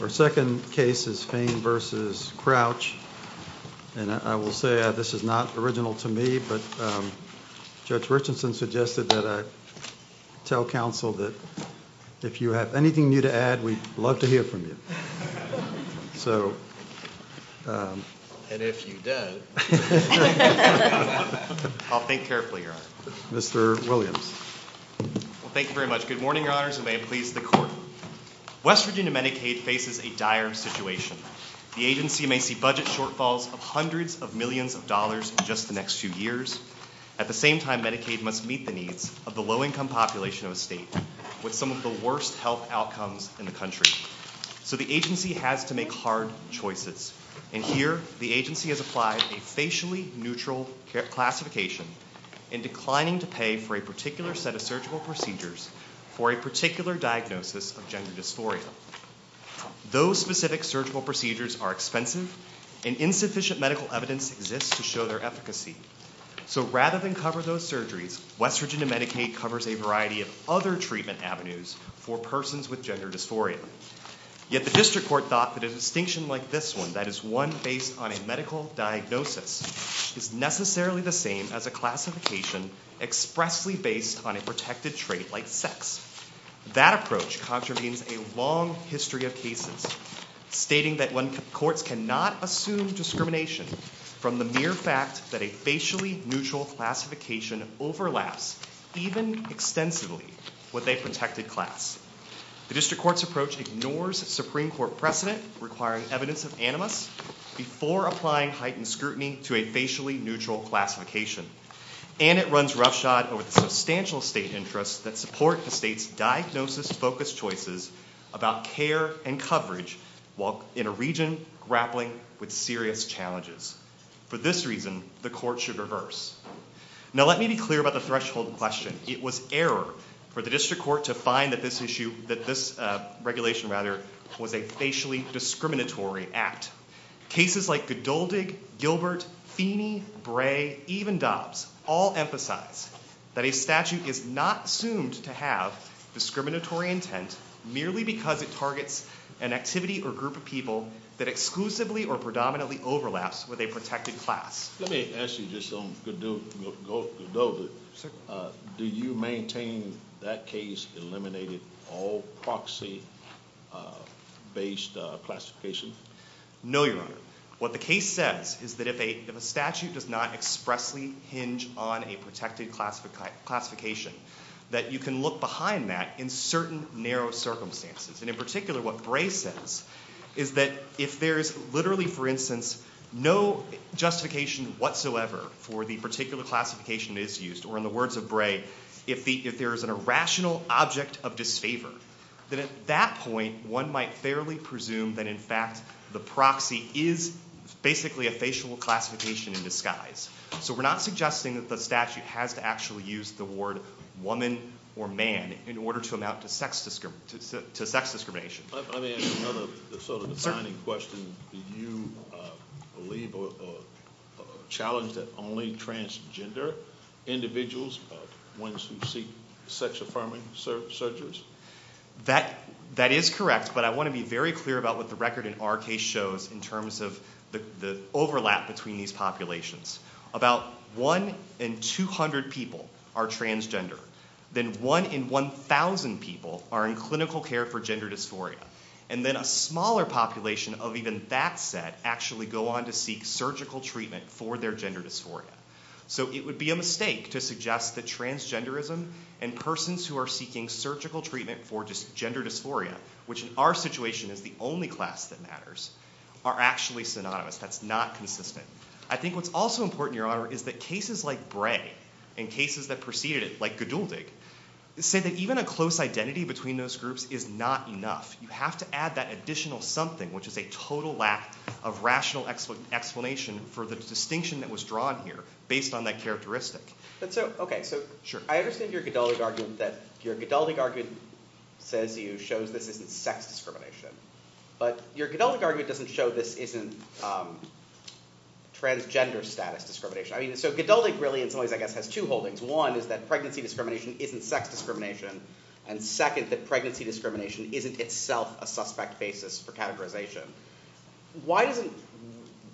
Our second case is Fain v. Crouch, and I will say that this is not original to me, but Judge Richardson suggested that I tell counsel that if you have anything new to add, we'd love to hear from you. And if you don't, I'll think carefully, Your Honor. Mr. Williams. Thank you very much. Good morning, Your Honors, and may it please the Court. West Virginia Medicaid faces a dire situation. The agency may see budget shortfalls of hundreds of millions of dollars in just the next few years. At the same time, Medicaid must meet the needs of the low-income population of the state with some of the worst health outcomes in the country. So the agency has to make hard choices. And here, the agency has applied a facially neutral classification in declining to pay for a particular set of surgical procedures for a particular diagnosis of gender dysphoria. Those specific surgical procedures are expensive, and insufficient medical evidence exists to show their efficacy. So rather than cover those surgeries, West Virginia Medicaid covers a variety of other treatment avenues for persons with gender dysphoria. Yet the district court thought that a distinction like this one, that is one based on a medical diagnosis, is necessarily the same as a classification expressly based on a protected trait like sex. That approach contravenes a long history of cases, stating that courts cannot assume discrimination from the mere fact that a facially neutral classification overlaps, even extensively, with a protected class. The district court's approach ignores Supreme Court precedent requiring evidence of animus before applying heightened scrutiny to a facially neutral classification. And it runs roughshod over substantial state interests that support the state's diagnosis-focused choices about care and coverage while in a region grappling with serious challenges. For this reason, the court should reverse. Now let me be clear about the threshold question. It was error for the district court to find that this regulation was a facially discriminatory act. Cases like Godoldig, Gilbert, Feeney, Bray, even Dobbs all emphasize that a statute is not assumed to have discriminatory intent merely because it targets an activity or group of people that exclusively or predominantly overlaps with a protected class. Let me ask you this on Godoldig. Did you maintain that case eliminated all proxy-based classification? No, Your Honor. What the case says is that if a statute does not expressly hinge on a protected classification, that you can look behind that in certain narrow circumstances. And in particular, what Bray says is that if there is literally, for instance, no justification whatsoever for the particular classification that is used, or in the words of Bray, if there is an irrational object of disfavor, then at that point one might fairly presume that in fact the proxy is basically a facial classification in disguise. So we're not suggesting that the statute has actually used the word woman or man in order to amount to sex discrimination. Let me ask you another defining question. Do you believe or challenge that only transgender individuals are ones who seek sex-affirming surgeries? That is correct, but I want to be very clear about what the record in our case shows in terms of the overlap between these populations. About 1 in 200 people are transgender. Then 1 in 1,000 people are in clinical care for gender dysphoria. And then a smaller population of even that set actually go on to seek surgical treatment for their gender dysphoria. So it would be a mistake to suggest that transgenderism and persons who are seeking surgical treatment for gender dysphoria, which in our situation is the only class that matters, are actually synonymous. That's not consistent. I think what's also important, Your Honor, is that cases like Bray and cases that preceded it, like Geduldig, said that even a close identity between those groups is not enough. You have to add that additional something, which is a total lack of rational explanation for the distinction that was drawn here based on that characteristic. I understand that your Geduldig argument shows that this isn't sex discrimination. But your Geduldig argument doesn't show that this isn't transgender status discrimination. So Geduldig really has two holdings. One is that pregnancy discrimination isn't sex discrimination. And second is that pregnancy discrimination isn't itself a suspect basis for categorization.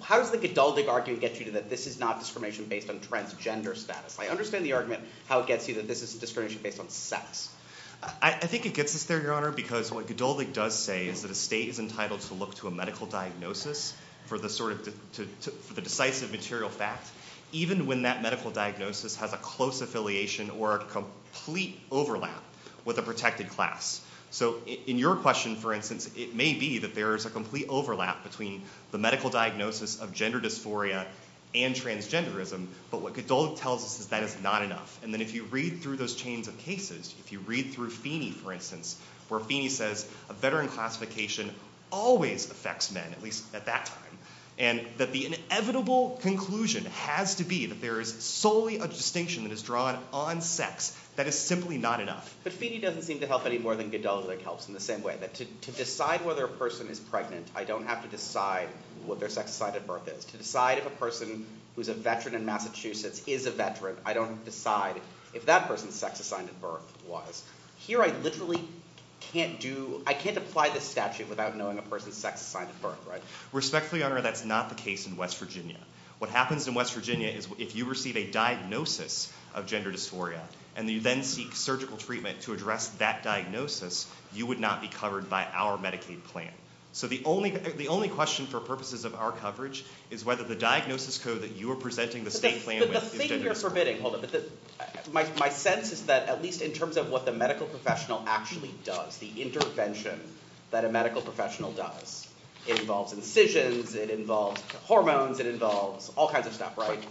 How does the Geduldig argument get you that this is not discrimination based on transgender status? I understand the argument, how it gets you that this is discrimination based on sex. I think it gets us there, Your Honor, because what Geduldig does say is that a state is entitled to look to a medical diagnosis for the decisive material facts, even when that medical diagnosis has a close affiliation or a complete overlap with a protected class. So in your question, for instance, it may be that there is a complete overlap between the medical diagnosis of gender dysphoria and transgenderism, but what Geduldig tells us is that it's not enough. And then if you read through those chains of cases, if you read through Feeney, for instance, where Feeney says a veteran classification always affects men, at least at that time, and that the inevitable conclusion has to be that there is solely a distinction that is drawn on sex, that is simply not enough. But Feeney doesn't seem to help any more than Geduldig helps in the same way. To decide whether a person is pregnant, I don't have to decide what their sex assigned at birth is. To decide if a person who is a veteran in Massachusetts is a veteran, I don't have to decide if that person's sex assigned at birth was. Here I literally can't do – I can't apply this statute without knowing a person's sex assigned at birth, right? Respectfully, Your Honor, that's not the case in West Virginia. What happens in West Virginia is if you receive a diagnosis of gender dysphoria and you then seek surgical treatment to address that diagnosis, you would not be covered by our Medicaid plan. So the only question for purposes of our coverage is whether the diagnosis code that you are presenting the state plan with – My sense is that at least in terms of what the medical professional actually does, the intervention that a medical professional does, it involves incisions, it involves hormones, it involves all kinds of stuff, right?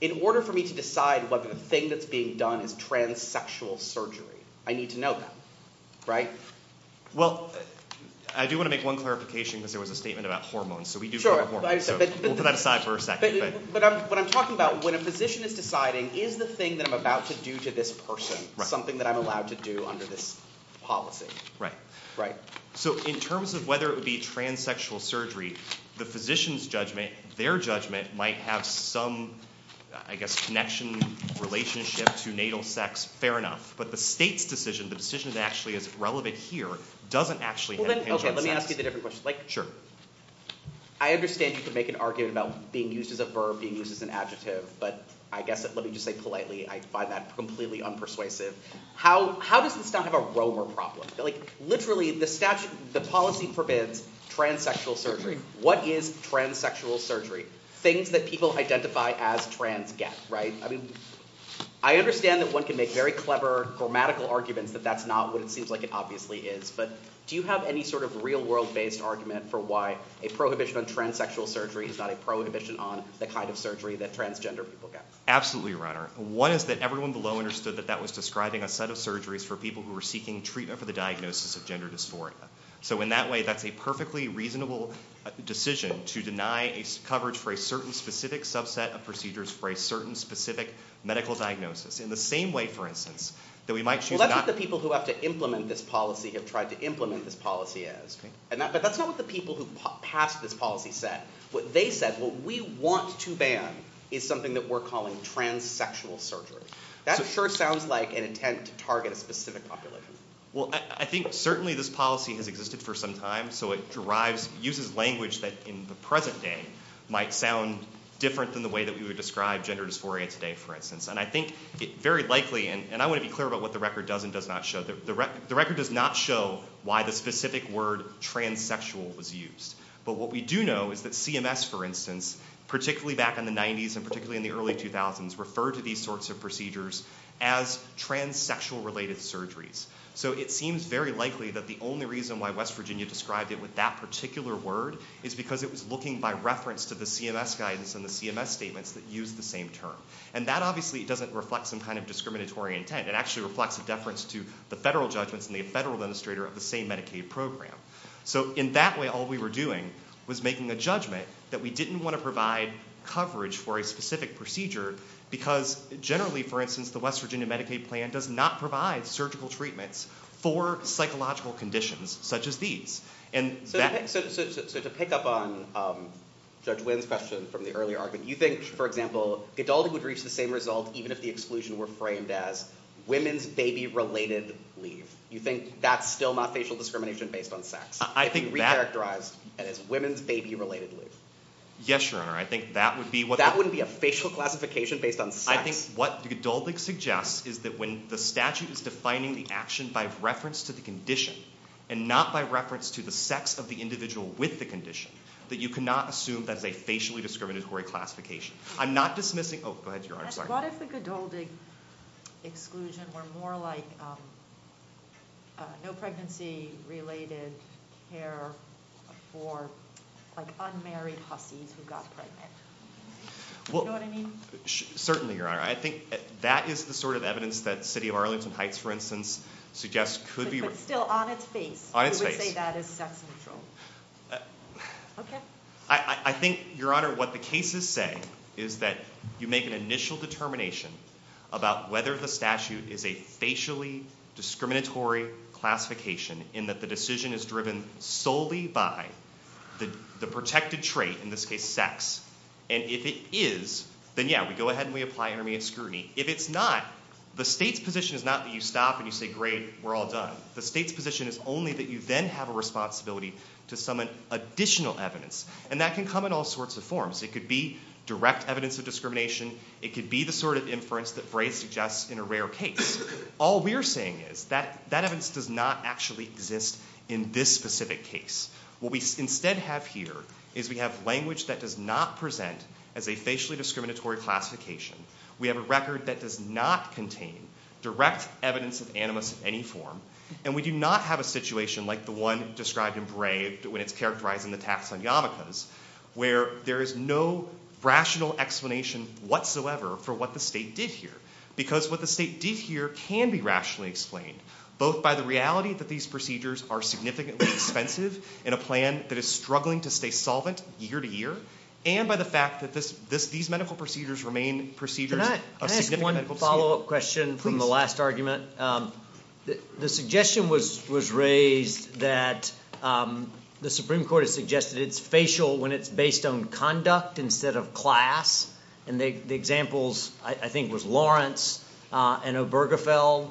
In order for me to decide whether the thing that's being done is transsexual surgery, I need to know that, right? Well, I do want to make one clarification because there was a statement about hormones. But what I'm talking about, when a physician is deciding, is the thing that I'm about to do to this person something that I'm allowed to do under this policy? Right. Right. So in terms of whether it would be transsexual surgery, the physician's judgment, their judgment, might have some, I guess, connection, relationship to natal sex. Fair enough. But the state's decision, the decision that actually is relevant here, doesn't actually have anything to do with that. Okay, let me ask you a different question. Sure. I understand you can make an argument about being used as a verb, being used as an adjective, but I guess, let me just say politely, I find that completely unpersuasive. How does this not have a Romer problem? Literally, the statute, the policy forbids transsexual surgery. What is transsexual surgery? Things that people identify as transgast, right? I mean, I understand that one can make very clever grammatical arguments, but that's not what it seems like it obviously is. But do you have any sort of real-world-based argument for why a prohibition on transsexual surgery is not a prohibition on the kind of surgery that transgender people get? Absolutely, Your Honor. One is that everyone below understood that that was describing a set of surgeries for people who were seeking treatment for the diagnosis of gender dysphoria. So in that way, that's a perfectly reasonable decision to deny coverage for a certain specific subset of procedures for a certain specific medical diagnosis. In the same way, for instance, that we might— Well, that's what the people who have to implement this policy have tried to implement this policy as. But that's not what the people who passed this policy said. What they said, what we want to ban is something that we're calling transsexual surgery. That sure sounds like an intent to target a specific population. Well, I think certainly this policy has existed for some time, so it derives, uses language that in the present day might sound different than the way that we would describe gender dysphoria today, for instance. And I think it's very likely, and I want to be clear about what the record does and does not show, the record does not show why the specific word transsexual was used. But what we do know is that CMS, for instance, particularly back in the 90s and particularly in the early 2000s, referred to these sorts of procedures as transsexual-related surgeries. So it seems very likely that the only reason why West Virginia described it with that particular word is because it was looking by reference to the CMS guidance and the CMS statements that used the same term. And that obviously doesn't reflect some kind of discriminatory intent. It actually reflects a deference to the federal judgments and the federal administrator of the same Medicaid program. So in that way, all we were doing was making a judgment that we didn't want to provide coverage for a specific procedure because generally, for instance, the West Virginia Medicaid plan does not provide surgical treatments for psychological conditions such as these. So to pick up on Judge Wynn's question from the earlier argument, do you think, for example, adultery would reach the same result even if the exclusion were framed as women's baby-related leave? Do you think that's still not facial discrimination based on sex? I think that... It would be re-characterized as women's baby-related leave. Yes, Your Honor, I think that would be what... That wouldn't be a facial classification based on sex. I think what the adultery suggests is that when the statute is defining the action by reference to the condition and not by reference to the sex of the individual with the condition, that you cannot assume that's a facially discriminatory classification. I'm not dismissing... Oh, go ahead, Your Honor. What if the condoling exclusion were more like no pregnancy-related care for an unmarried husky who got pregnant? Do you know what I mean? Certainly, Your Honor. I think that is the sort of evidence that the city of Arlington Heights, for instance, suggests could be... If it's still on its face, you would say that is sex-neutral. Okay. I think, Your Honor, what the cases say is that you make an initial determination about whether the statute is a facially discriminatory classification in that the decision is driven solely by the protected trait, in this case, sex. And if it is, then, yeah, we go ahead and we apply hearing and scrutiny. If it's not, the state's position is not that you stop and you say, great, we're all done. The state's position is only that you then have a responsibility to summon additional evidence. And that can come in all sorts of forms. It could be direct evidence of discrimination. It could be the sort of inference that Braves suggests in a rare case. All we're saying is that that evidence does not actually exist in this specific case. What we instead have here is we have language that does not present as a facially discriminatory classification. We have a record that does not contain direct evidence of animus of any form. And we do not have a situation like the one described in Braves when it's characterizing the tax on yarmulkes, where there is no rational explanation whatsoever for what the state did here. Because what the state did here can be rationally explained, both by the reality that these procedures are significantly expensive in a plan that is struggling to stay solvent year to year, and by the fact that these medical procedures remain procedures. Can I ask one follow-up question from the last argument? The suggestion was raised that the Supreme Court has suggested it's facial when it's based on conduct instead of class. And the examples I think was Lawrence and Obergefell.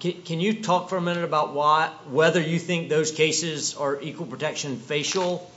Can you talk for a minute about whether you think those cases are equal protection facial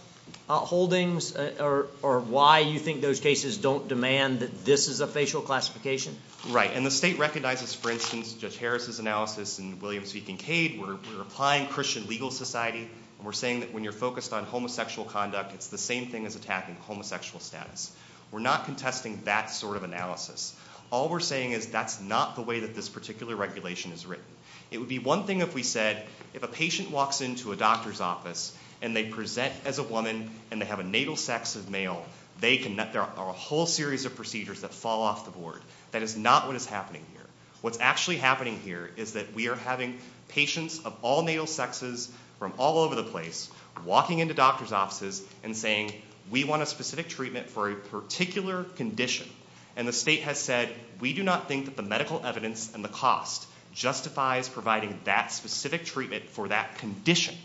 holdings or why you think those cases don't demand that this is a facial classification? Right. And the state recognizes, for instance, Judge Harris' analysis and William C. Kincaid, we're applying Christian legal society. We're saying that when you're focused on homosexual conduct, it's the same thing as attacking homosexual status. We're not contesting that sort of analysis. All we're saying is that's not the way that this particular regulation is written. It would be one thing if we said if a patient walks into a doctor's office and they present as a woman and they have a natal sex of male, there are a whole series of procedures that fall off the board. That is not what is happening here. What's actually happening here is that we are having patients of all natal sexes from all over the place walking into doctors' offices and saying we want a specific treatment for a particular condition. And the state has said we do not think that the medical evidence and the cost justifies providing that specific treatment for that condition.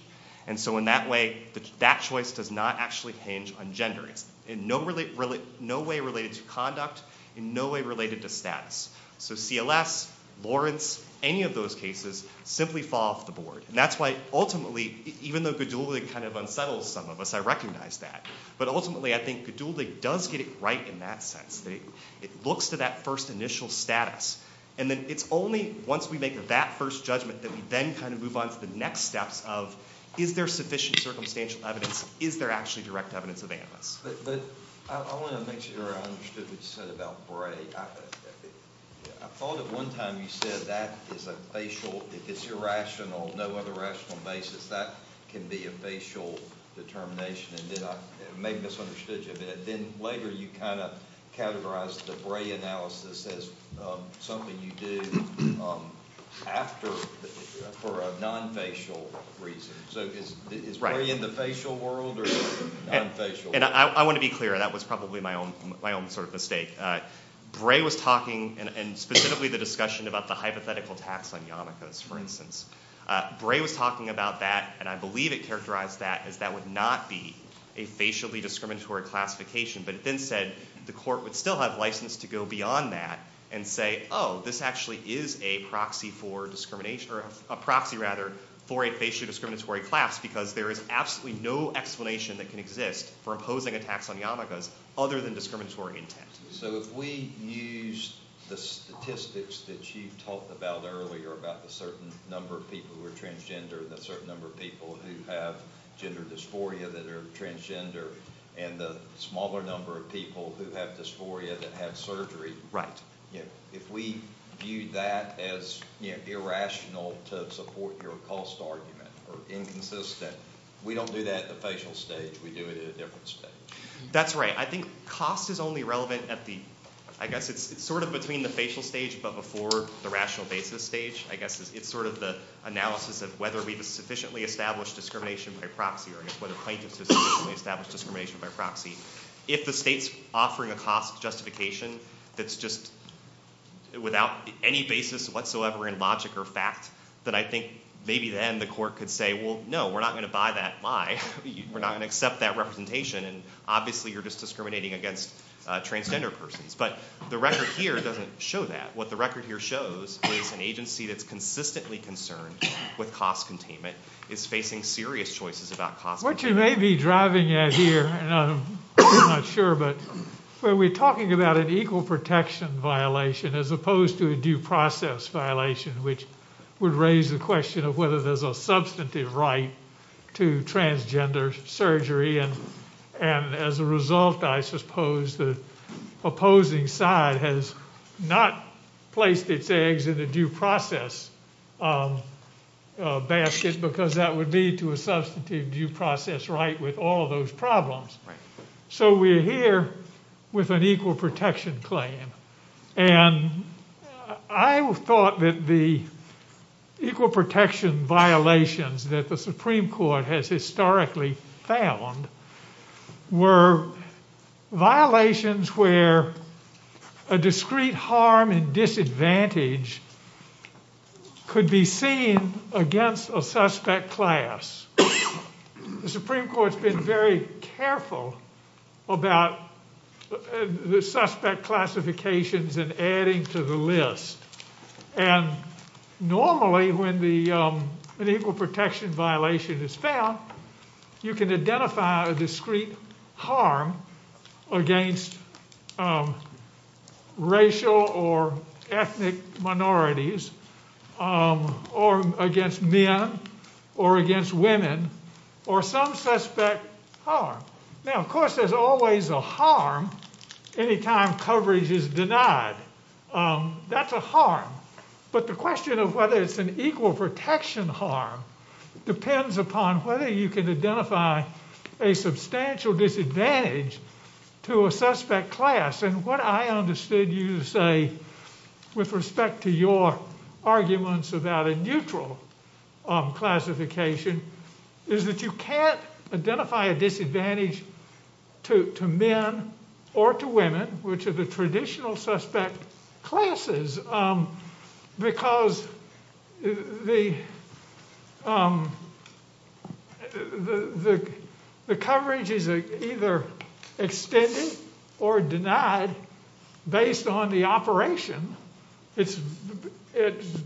And so in that way, that choice does not actually change on gender. In no way related to conduct, in no way related to status. So CLS, Lawrence, any of those cases simply fall off the board. And that's why ultimately, even though GDULIG kind of unsettles some of us, I recognize that, but ultimately I think GDULIG does get it right in that sense. It looks for that first initial status. And then it's only once we make that first judgment that we then kind of move on to the next step of is there sufficient circumstantial evidence, is there actually direct evidence available. I want to make sure I understood what you said about Bray. I thought at one time you said that is a facial, if it's irrational, no other rational basis, that can be a facial determination. And then I may have misunderstood you a bit. But then later you kind of categorized the Bray analysis as something you did after, for a non-facial reason. So is Bray in the facial world or non-facial world? And I want to be clear. That was probably my own sort of mistake. Bray was talking, and specifically the discussion about the hypothetical tax on yarmulkes, for instance. Bray was talking about that, and I believe it characterized that, that would not be a facially discriminatory classification. But it then said the court would still have license to go beyond that and say, oh, this actually is a proxy for a facial discriminatory class because there is absolutely no explanation that can exist for imposing a tax on yarmulkes other than discriminatory intent. So if we use the statistics that you talked about earlier, about the certain number of people who are transgender and the certain number of people who have gender dysphoria that are transgender and the smaller number of people who have dysphoria that have surgery, if we view that as irrational to support your cost argument or inconsistent, we don't do that at the facial stage. We do it at a different stage. That's right. I think cost is only relevant at the, I guess it's sort of between the facial stage but before the rational basis stage. I guess it's sort of the analysis of whether we've sufficiently established discrimination by proxy or whether plaintiffs have sufficiently established discrimination by proxy. If the state's offering a cost justification that's just without any basis whatsoever in logic or fact, then I think maybe then the court could say, well, no, we're not going to buy that. Why? We're not going to accept that representation, and obviously you're just discriminating against transgender persons. But the record here doesn't show that. What the record here shows is an agency that's consistently concerned with cost containment is facing serious choices about cost. What you may be driving at here, and I'm not sure, but we're talking about an equal protection violation as opposed to a due process violation, which would raise the question of whether there's a substantive right to transgender surgery, and as a result, I suppose the opposing side has not placed its eggs in the due process basket because that would lead to a substantive due process right with all those problems. So we're here with an equal protection claim, and I thought that the equal protection violations that the Supreme Court has historically found were violations where a discrete harm and disadvantage could be seen against a suspect class. The Supreme Court's been very careful about the suspect classifications and adding to the list, and normally when an equal protection violation is found, you can identify a discrete harm against racial or ethnic minorities or against men or against women or some suspect harm. Now, of course, there's always a harm any time coverage is denied. That's a harm, but the question of whether it's an equal protection harm depends upon whether you can identify a substantial disadvantage to a suspect class, and what I understood you to say with respect to your arguments about a neutral classification is that you can't identify a disadvantage to men or to women, which are the traditional suspect classes, because the coverage is either extended or denied based on the operation. It's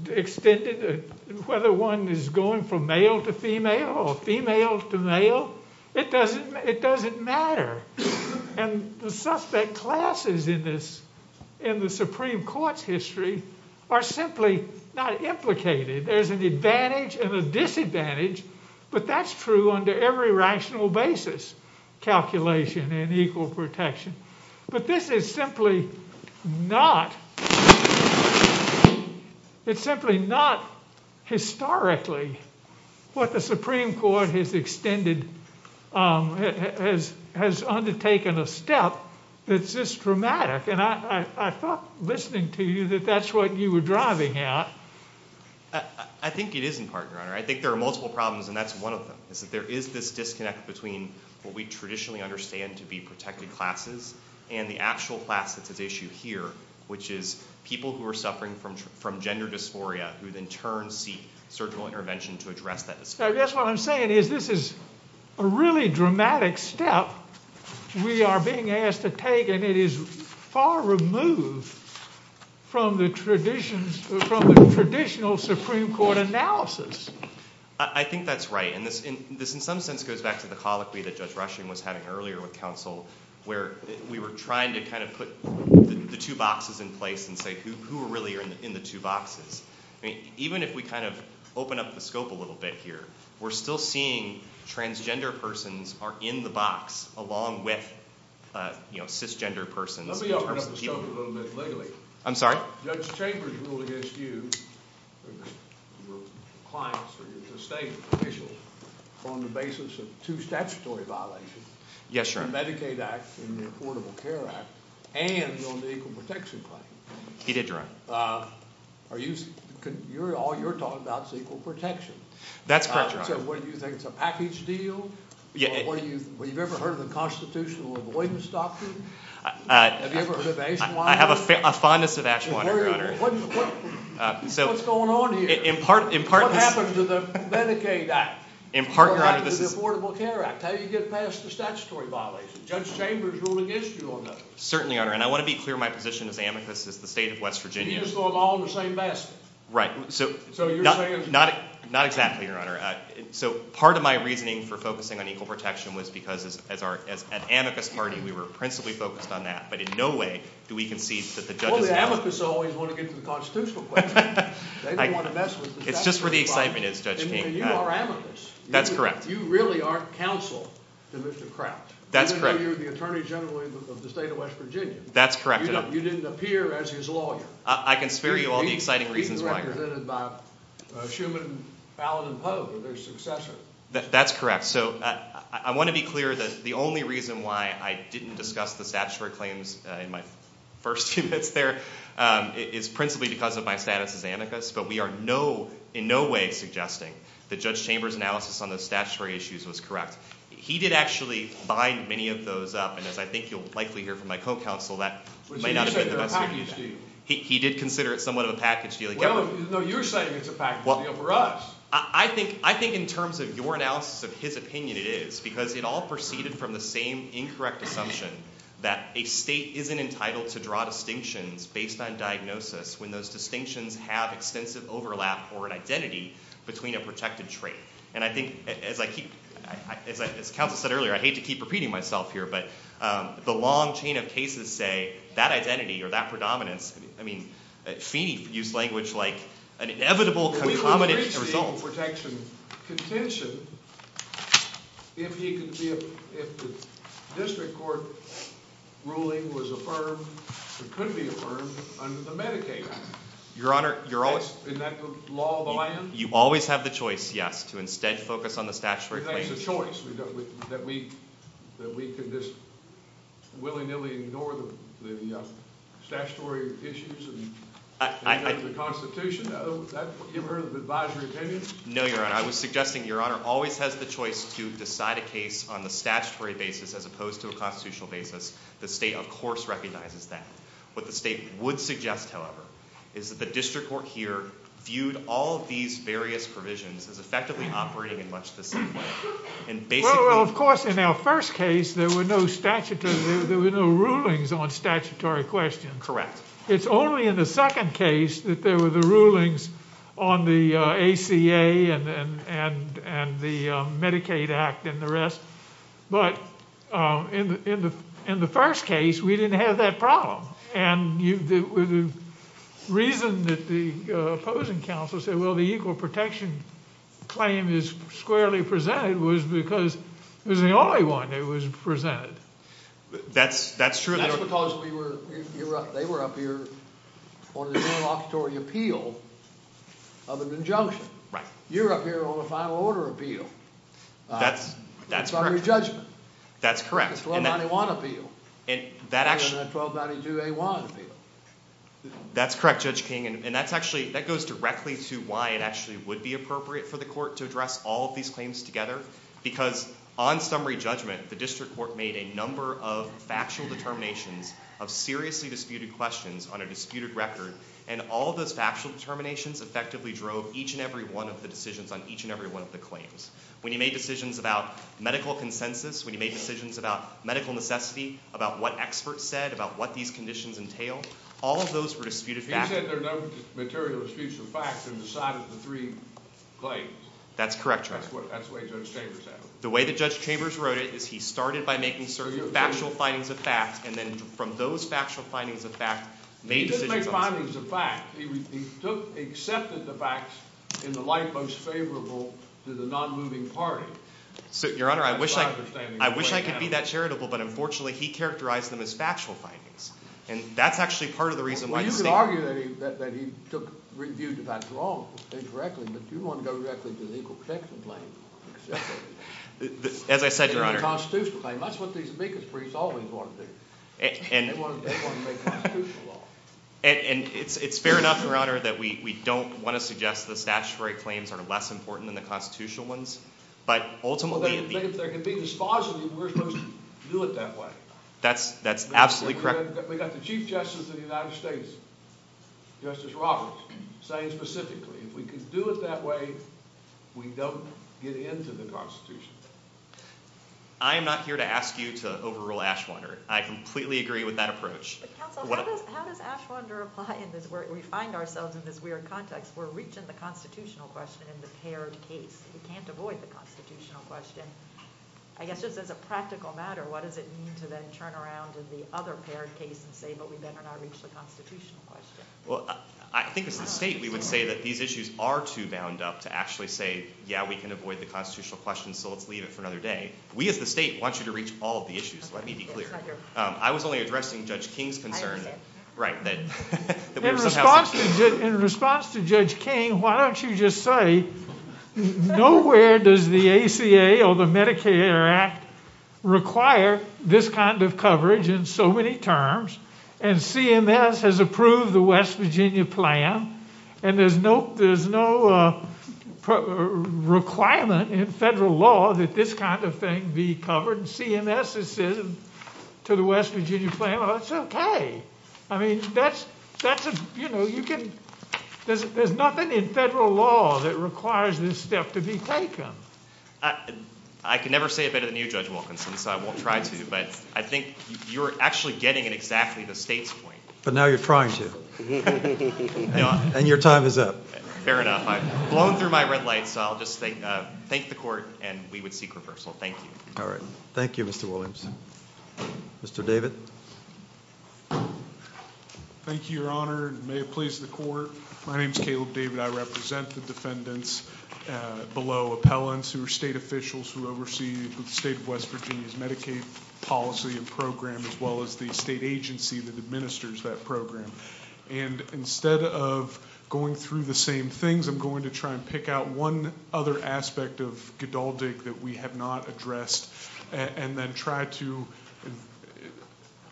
extended whether one is going from male to female or female to male. It doesn't matter, and the suspect classes in the Supreme Court's history are simply not implicated. There's an advantage and a disadvantage, but that's true under every rational basis calculation in equal protection, but this is simply not historically what the Supreme Court has undertaken a step that's this dramatic, and I thought listening to you that that's what you were driving at. I think it is in part, Your Honor. I think there are multiple problems, and that's one of them. There is this disconnect between what we traditionally understand to be protected classes and the actual classes at issue here, which is people who are suffering from gender dysphoria who in turn seek surgical intervention to address that. That's what I'm saying is this is a really dramatic step we are being asked to take, and it is far removed from the traditional Supreme Court analysis. I think that's right, and this in some sense goes back to the colloquy that Judge Rushing was having earlier with counsel where we were trying to kind of put the two boxes in place and say who really are in the two boxes. Even if we kind of open up the scope a little bit here, we're still seeing transgender persons are in the box along with cisgender persons. Let me open up the scope a little bit later. I'm sorry? Judge Chambers ruled against you and the clients of you, the state officials, on the basis of two statutory violations. Yes, Your Honor. The Medicaid Act and the Affordable Care Act and on the equal protection claim. He did, Your Honor. All you're talking about is equal protection. That's correct, Your Honor. So what do you think, it's a package deal? Have you ever heard of the constitutional avoidance doctrine? I have a fondness of action, Your Honor. What's going on here? What happened to the Medicaid Act? In part, Your Honor. What happened to the Affordable Care Act? How did you get past the statutory violations? Judge Chambers ruled against you on those. Certainly, Your Honor, and I want to be clear in my position as amicus as the state of West Virginia. You're just going along with the same message. Right. So you're saying it's not? Not exactly, Your Honor. So part of my reasoning for focusing on equal protection was because as an amicus party, we were principally focused on that. But in no way do we concede that the judge— Well, the amicus are always going to get to the constitutional questions. They don't want to mess with the statutory violations. It's just where the excitement is, Judge King. And you are amicus. That's correct. You really aren't counsel to Mr. Kraft. That's correct. You're the attorney general of the state of West Virginia. That's correct, Your Honor. You didn't appear as his lawyer. I can spare you all the exciting reasons why. Schumann, Fallin, and Pope are their successors. That's correct. So I want to be clear that the only reason why I didn't discuss the statutory claims in my first two minutes there is principally because of my status as amicus. But we are in no way suggesting that Judge Chambers' analysis on the statutory issues was correct. He did actually bind many of those up. And I think you'll likely hear from my co-counsel that— Which he considered a package deal. He did consider it somewhat of a package deal. Well, there's no use saying it's a package deal for us. I think in terms of your analysis of his opinion, it is. Because it all proceeded from the same incorrect assumption that a state isn't entitled to draw distinctions based on diagnosis when those distinctions have extensive overlap or an identity between a protected trait. And I think, as the counsel said earlier, I hate to keep repeating myself here, but the long chain of cases say that identity or that predominance—I mean, a cheap use language like an inevitable predominance— With respect to the protection contention, if the district court ruling was affirmed, it could be affirmed under the Medicaid Act. Your Honor, you're always— You always have the choice, yes, to instead focus on the statutory case. That's a choice. That we could just willy-nilly ignore the statutory issues and go to the Constitution. Does that give her an advisory opinion? No, Your Honor. I was suggesting Your Honor always has the choice to decide a case on the statutory basis as opposed to a constitutional basis. The state, of course, recognizes that. What the state would suggest, however, is that the district court here viewed all of these various provisions as effectively operating much the same way. Well, of course, in our first case there were no rulings on statutory questions. Correct. It's only in the second case that there were the rulings on the ACA and the Medicaid Act and the rest. But in the first case, we didn't have that problem. And the reason that the opposing counsel said, well, the equal protection claim is squarely presented was because it was the only one that was presented. That's true. That's because they were up here on a statutory appeal of a conjunction. Right. You're up here on a final order appeal. That's correct. Summary judgment. That's correct. 1291 appeal. And then 1292A1 appeal. That's correct, Judge King. And that goes directly to why it actually would be appropriate for the court to address all of these claims together. Because on summary judgment, the district court made a number of factual determinations of seriously disputed questions on a disputed record. And all of those factual determinations effectively drove each and every one of the decisions on each and every one of the claims. When you make decisions about medical consensus, when you make decisions about medical necessity, about what experts said, about what these conditions entailed, all of those were disputed facts. You said there's no material that speaks to facts on the side of the three claims. That's correct, Judge. That's the way Judge Chambers said it. The way that Judge Chambers wrote it is he started by making certain factual findings of facts and then from those factual findings of facts made decisions. He didn't make findings of facts. He accepted the facts in the light most favorable to the non-moving party. Your Honor, I wish I could be that charitable, but unfortunately he characterized them as factual findings. And that's actually part of the reason why— Well, you could argue that he reviewed the facts wrongly, incorrectly, but you want to go directly to the legal protection claim. As I said, Your Honor— And it's fair enough, Your Honor, that we don't want to suggest the statutory claims are less important than the constitutional ones, but ultimately— Well, if they can be dispositive, we're supposed to do it that way. That's absolutely correct. We've got the Chief Justice of the United States, Justice Roberts, saying specifically if we can do it that way, we don't get into the constitution. I'm not here to ask you to overrule Ashlander. I completely agree with that approach. Counsel, how does Ashlander apply? We find ourselves in this weird context. We're reaching the constitutional question in the paired case, and we can't avoid the constitutional question. I guess just as a practical matter, what does it mean to then turn around to the other paired case and say, well, we better not reach the constitutional question? Well, I think as the State, we would say that these issues are too bound up to actually say, yeah, we can avoid the constitutional question, so we'll leave it for another day. We as the State want you to reach all of the issues. Let me be clear. I was only addressing Judge King's concerns. In response to Judge King, why don't you just say nowhere does the ACA or the Medicare Act require this kind of coverage in so many terms, and CMS has approved the West Virginia plan, and there's no requirement in federal law that this kind of thing be covered. I can never say it better than you, Judge Wilkinson, so I won't try to, but I think you're actually getting at exactly the State's point. But now you're trying to, and your time is up. Fair enough. I've blown through my red lights, so I'll just say thank the Court, and we would seek reversal. Thank you. Thank you. Thank you. Thank you. Thank you. Thank you. Thank you, Mr. Wilkinson. Mr. David. Thank you, Your Honor, and may it please the Court, my name is Caleb David. I represent the defendants below appellants who are State officials who oversee the State of West Virginia's Medicaid policy and program, as well as the State agency that administers that program. Instead of going through the same things, I'm going to try and pick out one other aspect of Godaldig that we have not addressed, and then try to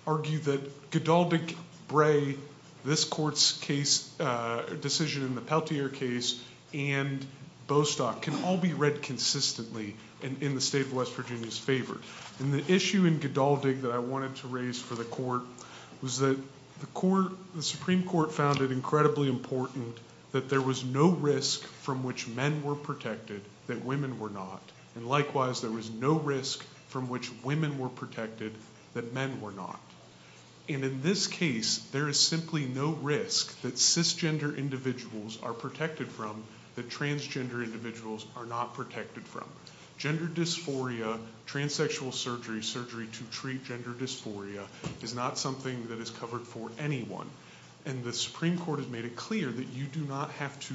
argue that Godaldig-Bray, this Court's decision in the Peltier case, and Bostock can all be read consistently in the State of West Virginia's favor. The issue in Godaldig that I wanted to raise for the Court was that the Supreme Court found it incredibly important that there was no risk from which men were protected that women were not. Likewise, there was no risk from which women were protected that men were not. In this case, there is simply no risk that cisgender individuals are protected from that transgender individuals are not protected from. Gender dysphoria, transsexual surgery, surgery to treat gender dysphoria, is not something that is covered for anyone. And the Supreme Court has made it clear that you do not have to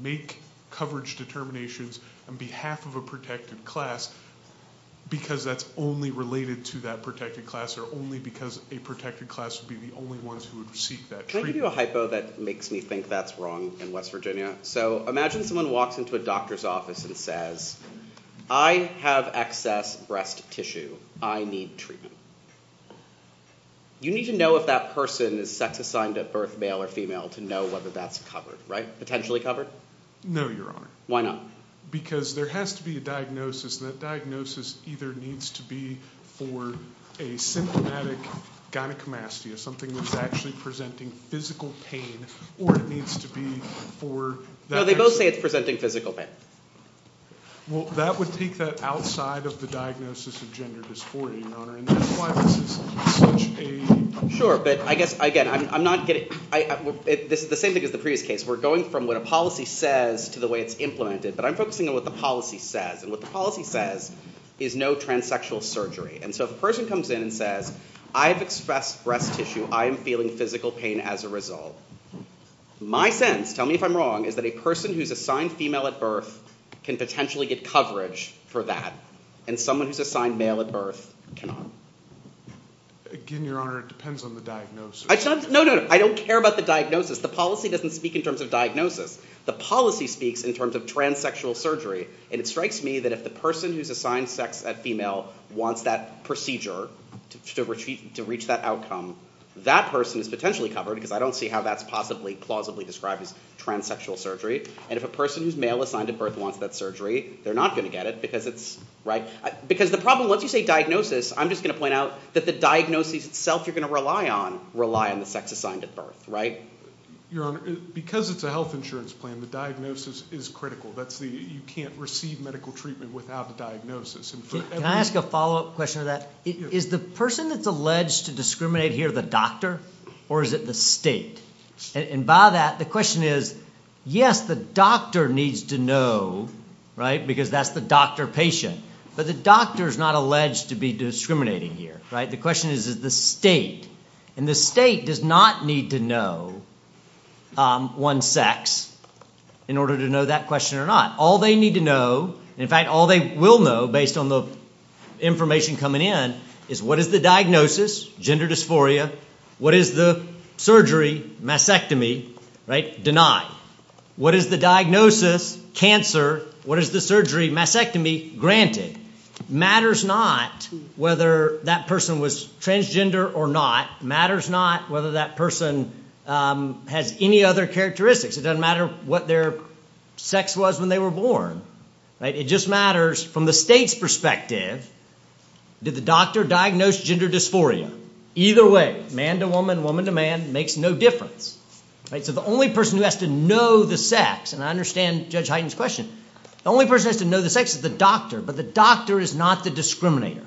make coverage determinations on behalf of a protected class because that's only related to that protected class or only because a protected class would be the only ones who would receive that treatment. Can I give you a hypo that makes me think that's wrong in West Virginia? So imagine someone walks into a doctor's office and says, I have excess breast tissue. I need treatment. You need to know if that person is sex assigned at birth, male or female, to know whether that's covered, right? Potentially covered? No, Your Honor. Why not? Because there has to be a diagnosis. The diagnosis either needs to be for a symptomatic gynecomastia, something that's actually presenting physical pain, or it needs to be for... No, they both say it's presenting physical pain. Well, that would think that outside of the diagnosis of gender dysphoria, Your Honor, and that's why this is such a... Sure, but I guess, again, I'm not getting... The same thing as the previous case. We're going from what a policy says to the way it's implemented. But I'm focusing on what the policy says, and what the policy says is no transsexual surgery. And so a person comes in and says, I have excess breast tissue. I am feeling physical pain as a result. My sense, tell me if I'm wrong, is that a person who's assigned female at birth can potentially get coverage for that, and someone who's assigned male at birth cannot. Again, Your Honor, it depends on the diagnosis. No, no, no. I don't care about the diagnosis. The policy doesn't speak in terms of diagnosis. The policy speaks in terms of transsexual surgery. And it strikes me that if the person who's assigned sex at female wants that procedure to reach that outcome, that person is potentially covered, because I don't see how that's possibly plausibly described as transsexual surgery. And if a person who's male assigned at birth wants that surgery, they're not going to get it, because it's... Because the problem, let's say diagnosis, I'm just going to point out that the diagnosis itself you're going to rely on, rely on the sex assigned at birth, right? Your Honor, because it's a health insurance plan, the diagnosis is critical. You can't receive medical treatment without a diagnosis. Can I ask a follow-up question to that? Is the person that's alleged to discriminate here the doctor, or is it the state? And by that, the question is, yes, the doctor needs to know, right, because that's the doctor patient, but the doctor is not alleged to be discriminating here, right? The question is, is it the state? And the state does not need to know one's sex in order to know that question or not. All they need to know, in fact, all they will know, based on the information coming in, is what is the diagnosis, gender dysphoria, what is the surgery, mastectomy, right, denied. What is the diagnosis, cancer, what is the surgery, mastectomy, granted. Matters not whether that person was transgender or not. Matters not whether that person has any other characteristics. It doesn't matter what their sex was when they were born, right? It just matters, from the state's perspective, did the doctor diagnose gender dysphoria? Either way, man to woman, woman to man, makes no difference, right? So the only person who has to know the sex, and I understand Judge Hyten's question, the only person who has to know the sex is the doctor, but the doctor is not the discriminator,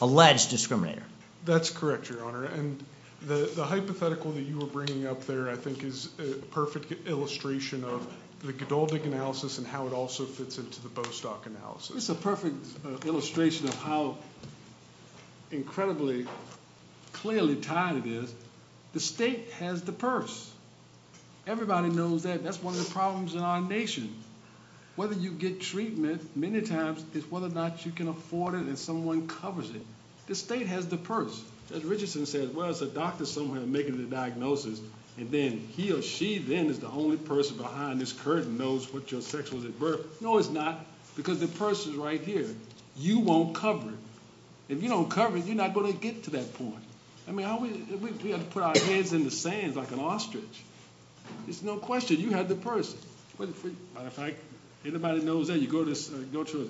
alleged discriminator. That's correct, Your Honor, and the hypothetical that you were bringing up there, I think, is a perfect illustration of the Godovic analysis and how it also fits into the Bostock analysis. It's a perfect illustration of how incredibly clearly tied it is. The state has the purse. Everybody knows that. That's one of the problems in our nation. Whether you get treatment, many times, it's whether or not you can afford it and someone covers it. The state has the purse. Judge Richardson says, well, it's a doctor somewhere making the diagnosis, and then he or she then is the only person behind this curtain who knows what your sex was at birth. No, it's not, because the purse is right here. You won't cover it. If you don't cover it, you're not going to get to that point. I mean, we have to put our hands in the sands like an ostrich. It's no question. You have the purse. Anybody that knows that, you go to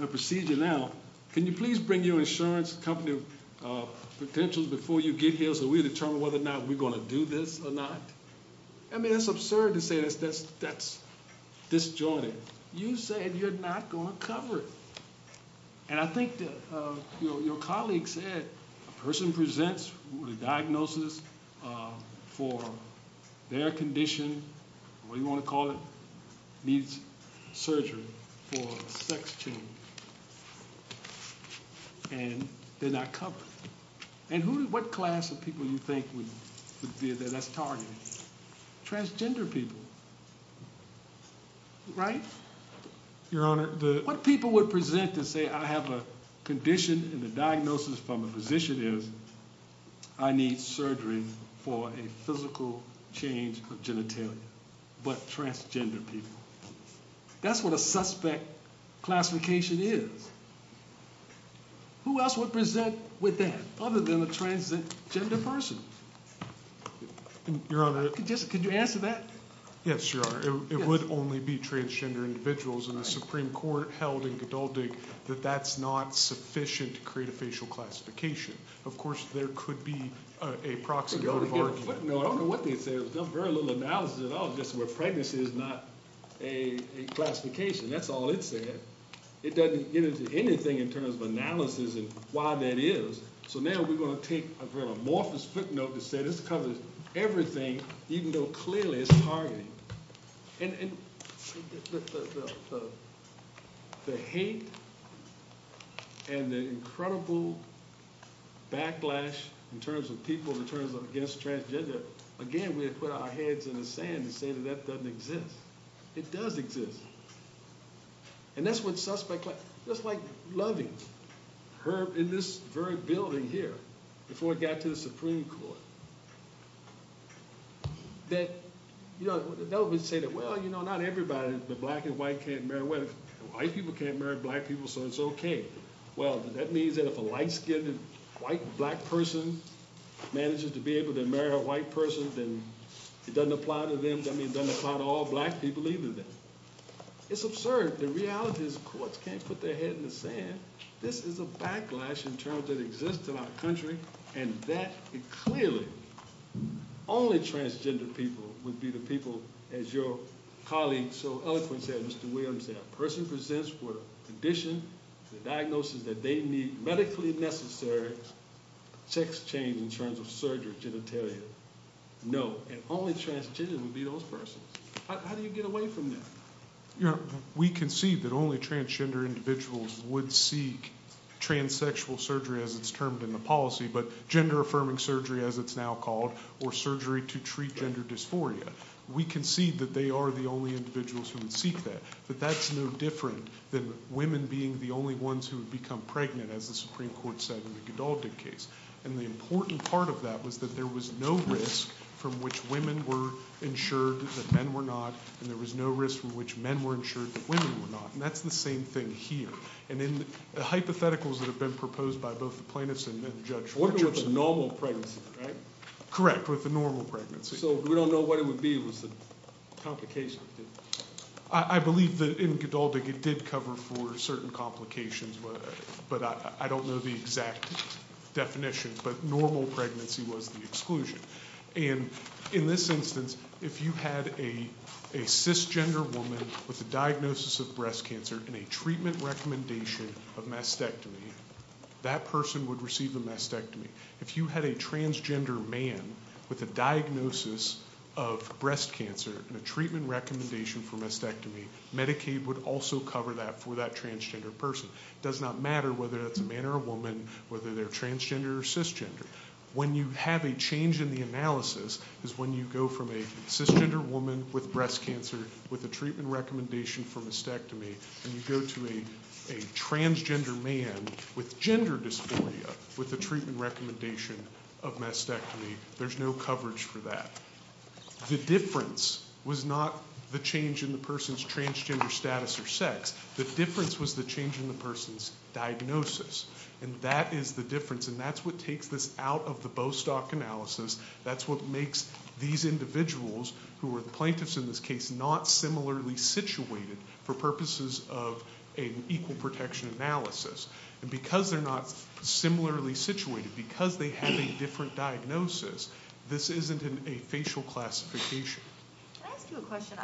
a procedure now. Can you please bring your insurance company potentials before you get here so we determine whether or not we're going to do this or not? I mean, it's absurd to say that's disjointed. You said you're not going to cover it. And I think that your colleague said a person presents with a diagnosis for their condition, what do you want to call it, needs surgery for sex change, and they're not covered. And what class of people do you think would be the best target? Transgender people, right? Your Honor, the— What people would present and say I have a condition and the diagnosis from the physician is I need surgery for a physical change of genitalia, but transgender people. That's what a suspect classification is. Who else would present with that other than a transgender person? Your Honor— Could you answer that? Yes, Your Honor. It would only be transgender individuals, and the Supreme Court held in condulting that that's not sufficient to create a facial classification. Of course, there could be a proxy or a margin. No, I don't know what they said. There's very little analysis at all just where pregnancy is not a classification. That's all it said. It doesn't give us anything in terms of analysis and why that is. So now we're going to take a real amorphous footnote and say this covers everything even though clearly it's targeted. And the hate and the incredible backlash in terms of people in terms of against transgender, again, we have put our heads in the sand and said that that doesn't exist. It does exist. And that's what suspect— Just like Loving, in this very building here, before it got to the Supreme Court, that, you know, they always say that, well, you know, not everybody, the black and white can't marry women. White people can't marry black people, so it's okay. Well, that means that if a light-skinned white black person manages to be able to marry a white person, then it doesn't apply to them. It doesn't apply to all black people either. It's absurd. The reality is the courts can't put their head in the sand. This is a backlash in terms that exists in our country, and that clearly only transgender people would be the people, as your colleague so eloquently said, Mr. Williams, that a person presents for a condition, the diagnosis that they need medically necessary, sex change in terms of surgery, genitalia. No. And only transgender would be those persons. How do you get away from that? We concede that only transgender individuals would seek transsexual surgery, as it's termed in the policy, but gender-affirming surgery, as it's now called, or surgery to treat gender dysphoria. We concede that they are the only individuals who would seek that, but that's no different than women being the only ones who would become pregnant, as the Supreme Court said in the Gidalgid case. And the important part of that was that there was no risk from which women were insured, that men were not, and there was no risk from which men were insured, that women were not, and that's the same thing here. And the hypotheticals that have been proposed by both the plaintiffs and the judge. We're talking about the normal pregnancy, right? Correct, with the normal pregnancy. So we don't know what it would be with the complications. I believe that in Gidalgid it did cover for certain complications, but I don't know the exact definitions, but normal pregnancy was the exclusion. And in this instance, if you had a cisgender woman with a diagnosis of breast cancer and a treatment recommendation of mastectomy, that person would receive a mastectomy. If you had a transgender man with a diagnosis of breast cancer and a treatment recommendation for mastectomy, Medicaid would also cover that for that transgender person. It does not matter whether it's a man or a woman, whether they're transgender or cisgender. When you have a change in the analysis is when you go from a cisgender woman with breast cancer with a treatment recommendation for mastectomy and you go to a transgender man with gender dysphoria with a treatment recommendation of mastectomy. There's no coverage for that. The difference was not the change in the person's transgender status or sex. The difference was the change in the person's diagnosis, and that is the difference, and that's what takes this out of the Bostock analysis. That's what makes these individuals who are the plaintiffs in this case not similarly situated for purposes of an equal protection analysis. And because they're not similarly situated, because they have a different diagnosis, this isn't a facial classification. Can I ask you a question?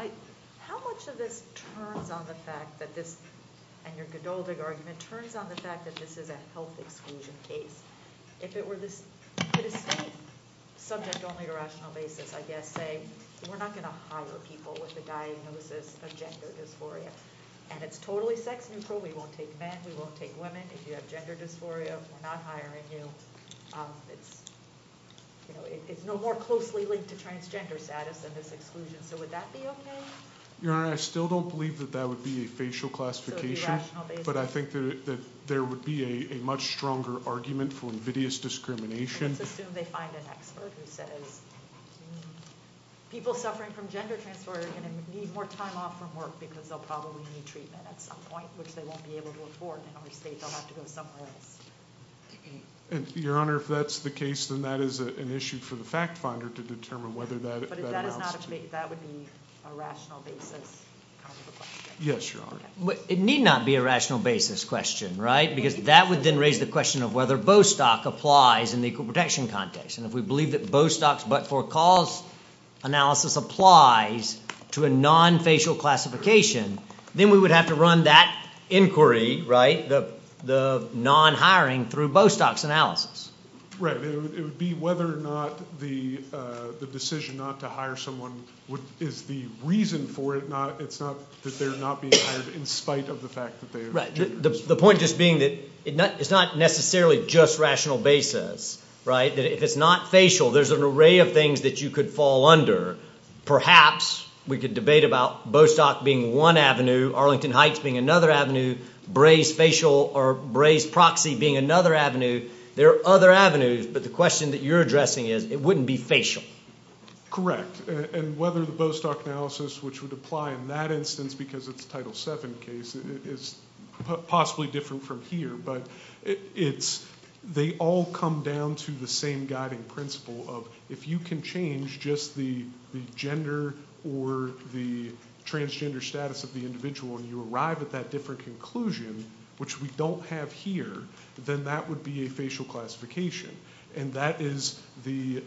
How much of this turns on the fact that this, and you're indulging argument, turns on the fact that this is a health exclusion case? If it were subject only to rational basis, I guess, saying we're not going to hire people with a diagnosis of gender dysphoria and it's totally sex neutral, we won't take men, we won't take women, if you have gender dysphoria, we're not hiring you. It's no more closely linked to transgender status than this exclusion, so would that be okay? Your Honor, I still don't believe that that would be a facial classification, but I think that there would be a much stronger argument for invidious discrimination. And, Your Honor, if that's the case, then that is an issue for the fact finder to determine whether that analysis... Yes, Your Honor. It need not be a rational basis question, right, because that would then raise the question of whether Bostock applies in the equal protection context, and if we believe that Bostock's but-for-cause analysis applies to a non-facial classification, then we would have to run that inquiry, right, the non-hiring through Bostock's analysis. Right, it would be whether or not the decision not to hire someone is the reason for it, it's not that they're not being hired in spite of the fact that they... Right, the point just being that it's not necessarily just rational basis, right? If it's not facial, there's an array of things that you could fall under. Perhaps we could debate about Bostock being one avenue, Arlington Heights being another avenue, Braves facial or Braves proxy being another avenue. There are other avenues, but the question that you're addressing is, it wouldn't be facial. Correct, and whether the Bostock analysis, which would apply in that instance because of the Title VII case, it's possibly different from here, but they all come down to the same guiding principle of, if you can change just the gender or the transgender status of the individual and you arrive at that different conclusion, which we don't have here, then that would be a facial classification, and that's the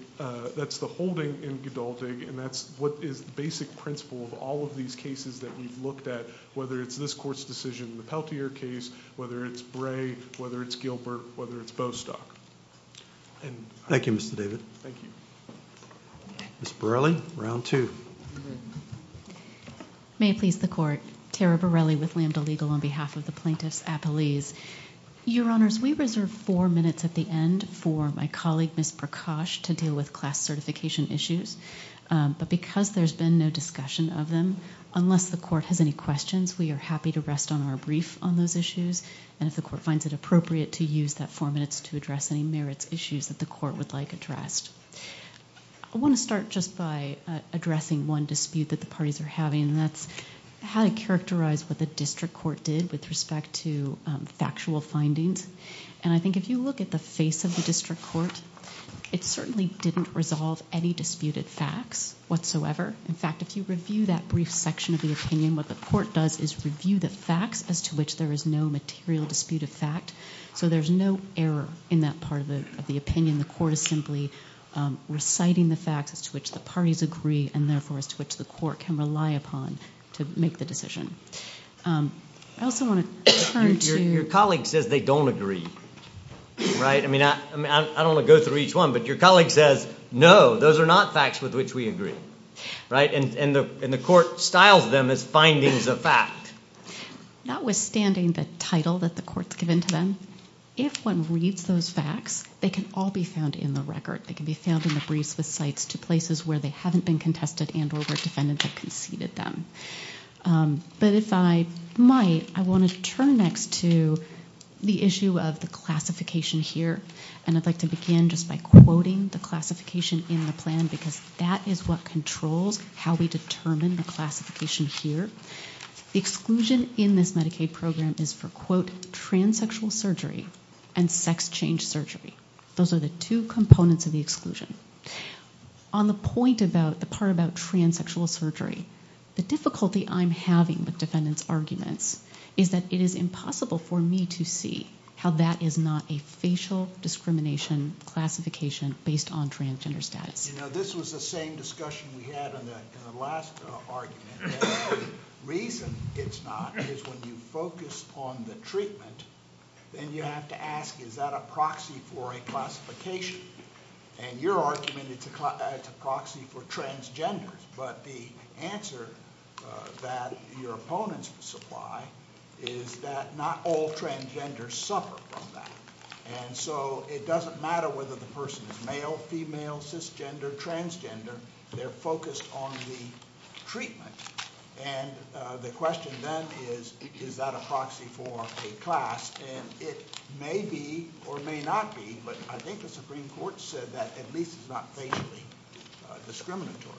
holding in Gadolzig, and that's what the basic principle of all of these cases that we've looked at, whether it's this court's decision in the Peltier case, whether it's Bray, whether it's Gilbert, whether it's Bostock. Thank you, Mr. David. Thank you. Ms. Borelli, round two. May it please the court, Kara Borelli with Lambda Legal on behalf of the plaintiffs at Belize. Your Honors, we reserve four minutes at the end for my colleague, Ms. Prakash, to deal with class certification issues, but because there's been no discussion of them, unless the court has any questions, we are happy to rest on our brief on those issues, and if the court finds it appropriate to use that four minutes to address any merits issues that the court would like addressed. I want to start just by addressing one dispute that the parties are having, and that's how to characterize what the district court did with respect to factual findings, and I think if you look at the face of the district court, it certainly didn't resolve any disputed facts whatsoever. In fact, if you review that brief section of the opinion, what the court does is review the facts as to which there is no material disputed fact, so there's no error in that part of the opinion. The court is simply reciting the facts to which the parties agree and, therefore, to which the court can rely upon to make the decision. I also want to turn to... I don't want to go through each one, but your colleague says, no, those are not facts with which we agree, and the court styles them as findings of fact. Notwithstanding the title that the court's given to them, if one reads those facts, they can all be found in the record. They can be found in the briefs with sites to places where they haven't been contested and where defendants have conceded them. But if I might, I want to turn next to the issue of the classification here, and I'd like to begin just by quoting the classification in the plan because that is what controls how we determine the classification here. Exclusion in this Medicaid program is for, quote, transsexual surgery and sex change surgery. Those are the two components of the exclusion. On the point about the part about transsexual surgery, the difficulty I'm having with defendants' arguments is that it is impossible for me to see how that is not a facial discrimination classification based on transgender status. You know, this was the same discussion we had in the last argument, and the reason it's not is when you focus on the treatment, then you have to ask, is that a proxy for a classification? And you're arguing it's a proxy for transgender, but the answer that your opponents supply is that not all transgenders suffer from that, and so it doesn't matter whether the person is male, female, cisgender, transgender. They're focused on the treatment, and the question then is, is that a proxy for a class? And it may be or may not be, but I think the Supreme Court said that at least it's not facially discriminatory.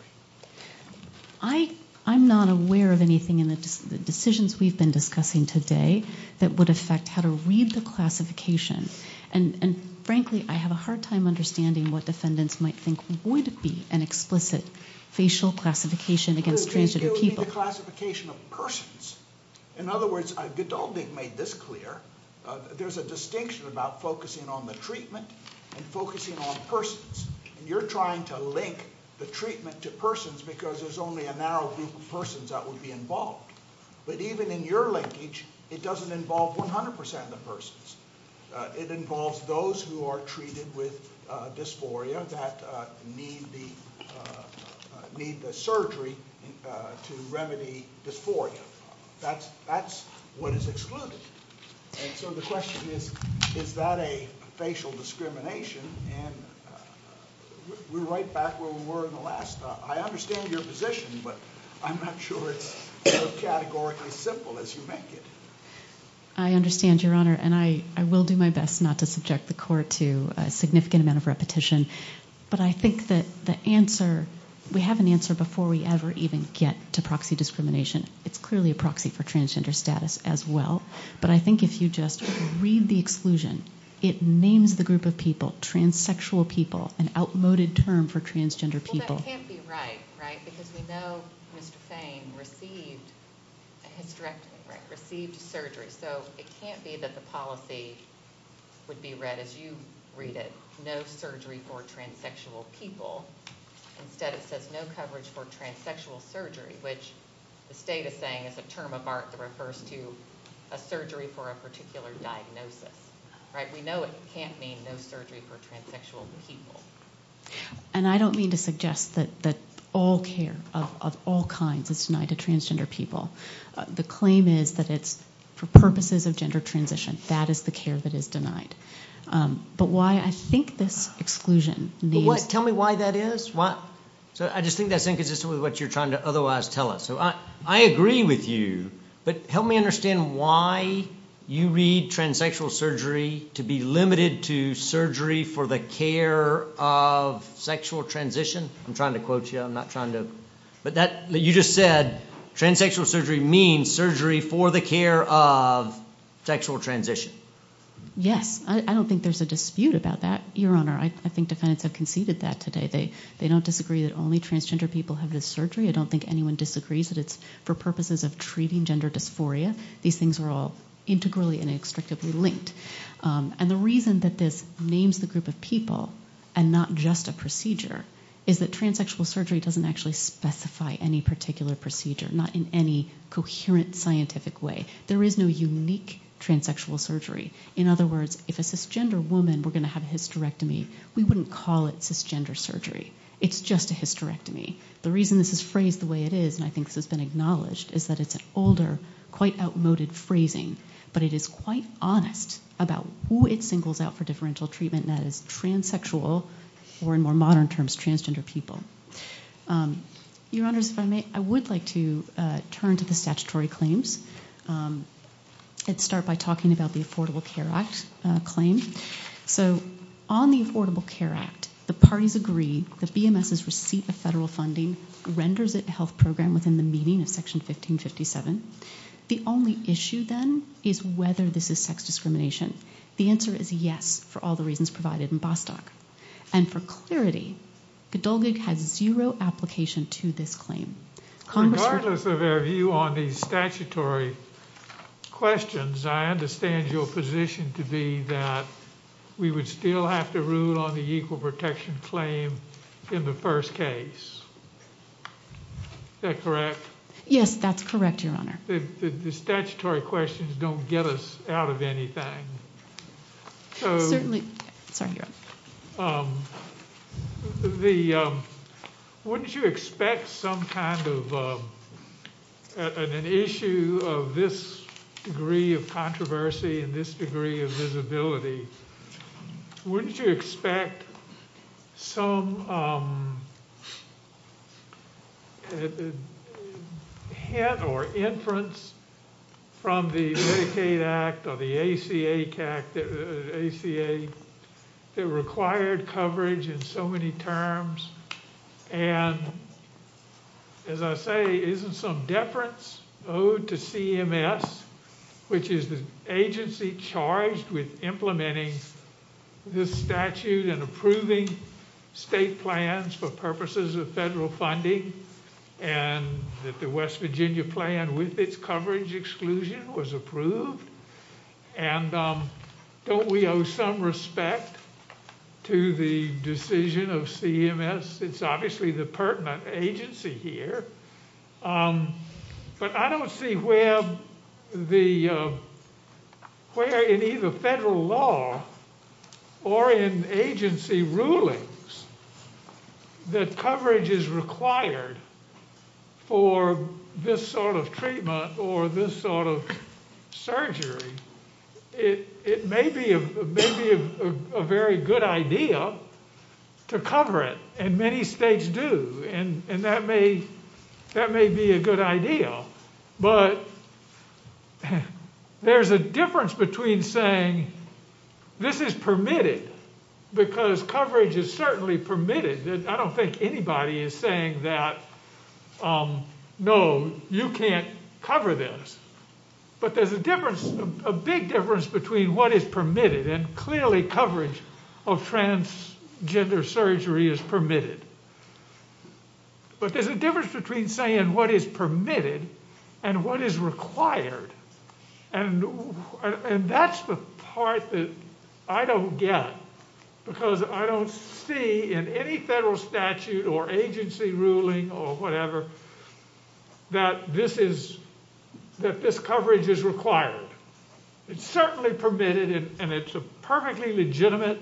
I'm not aware of anything in the decisions we've been discussing today that would affect how to read the classification, and frankly, I have a hard time understanding what defendants might think would be an explicit facial classification against transgender people. It would be the classification of persons. In other words, I don't think they've made this clear. There's a distinction about focusing on the treatment and focusing on persons, and you're trying to link the treatment to persons because there's only a narrow group of persons that would be involved, but even in your linkage, it doesn't involve 100% of the persons. It involves those who are treated with dysphoria that need the surgery to remedy dysphoria. That's what is excluded, and so the question is, is that a facial discrimination? And we're right back where we were in the last... I understand your position, but I'm not sure it's as categorically simple as you make it. I understand, Your Honor, and I will do my best not to subject the court to a significant amount of repetition, but I think that the answer... We have an answer before we ever even get to proxy discrimination. It's clearly a proxy for transgender status as well, but I think if you just read the exclusion, it names the group of people, transsexual people, an outmoded term for transgender people. Well, that can't be right, right? Because we know Ms. Payne received surgery, so it can't be that the policy would be read as you read it, no surgery for transsexual people. Instead, it says no coverage for transsexual surgery, which the state is saying is a term of art that refers to a surgery for a particular diagnosis. We know it can't mean no surgery for transsexual people. And I don't mean to suggest that all care of all kinds is denied to transgender people. The claim is that it's for purposes of gender transition. That is the care that is denied. But why I think this exclusion... Tell me why that is. I just think it's what you're trying to otherwise tell us. I agree with you, but help me understand why you read transsexual surgery to be limited to surgery for the care of sexual transition. I'm trying to quote you. But you just said transsexual surgery means surgery for the care of sexual transition. Yes. I don't think there's a dispute about that, Your Honor. I think the defense has conceded that today. They don't disagree that only transgender people have this surgery. I don't think anyone disagrees that it's for purposes of treating gender dysphoria. These things are all integrally and extractively linked. And the reason that this names the group of people and not just a procedure is that transsexual surgery doesn't actually specify any particular procedure, not in any coherent scientific way. There is no unique transsexual surgery. In other words, if a cisgender woman were going to have a hysterectomy, we wouldn't call it cisgender surgery. It's just a hysterectomy. The reason this is phrased the way it is, and I think this has been acknowledged, is that it's an older, quite outmoded phrasing, but it is quite honest about who it singles out for differential treatment, and that is transsexual, or in more modern terms, transgender people. Your Honor, if I may, I would like to turn to the statutory claims and start by talking about the Affordable Care Act claims. So, on the Affordable Care Act, the parties agree that BMS's receipt of federal funding renders it a health program within the meaning of Section 1557. The only issue, then, is whether this is sex discrimination. The answer is yes, for all the reasons provided in Bostock. And for clarity, Gdolgig had zero application to this claim. Regardless of our view on the statutory questions, I understand your position to be that we would still have to rule on the equal protection claim in the first case. Is that correct? Yes, that's correct, Your Honor. The statutory questions don't get us out of anything. Certainly. Wouldn't you expect some kind of... an issue of this degree of controversy and this degree of visibility, wouldn't you expect some... hint or inference from the ACA Act or the ACH Act, ACA, that required coverage in so many terms? And, as I say, isn't some deference owed to CMS, which is the agency charged with implementing this statute and approving state plans for purposes of federal funding, and that the West Virginia plan, with its coverage exclusion, was approved? And don't we owe some respect to the decision of CMS? It's obviously the pertinent agency here. But I don't see where the... where in either federal law or in agency rulings that coverage is required for this sort of treatment or this sort of surgery. It may be a very good idea to cover it, and many states do, and that may be a good idea. But there's a difference between saying, this is permitted because coverage is certainly permitted. I don't think anybody is saying that, no, you can't cover this. But there's a difference, a big difference, between what is permitted, and clearly coverage of transgender surgery is permitted. But there's a difference between saying what is permitted and what is required. And that's the part that I don't get, because I don't see in any federal statute or agency ruling or whatever, that this coverage is required. It's certainly permitted, and it's a perfectly legitimate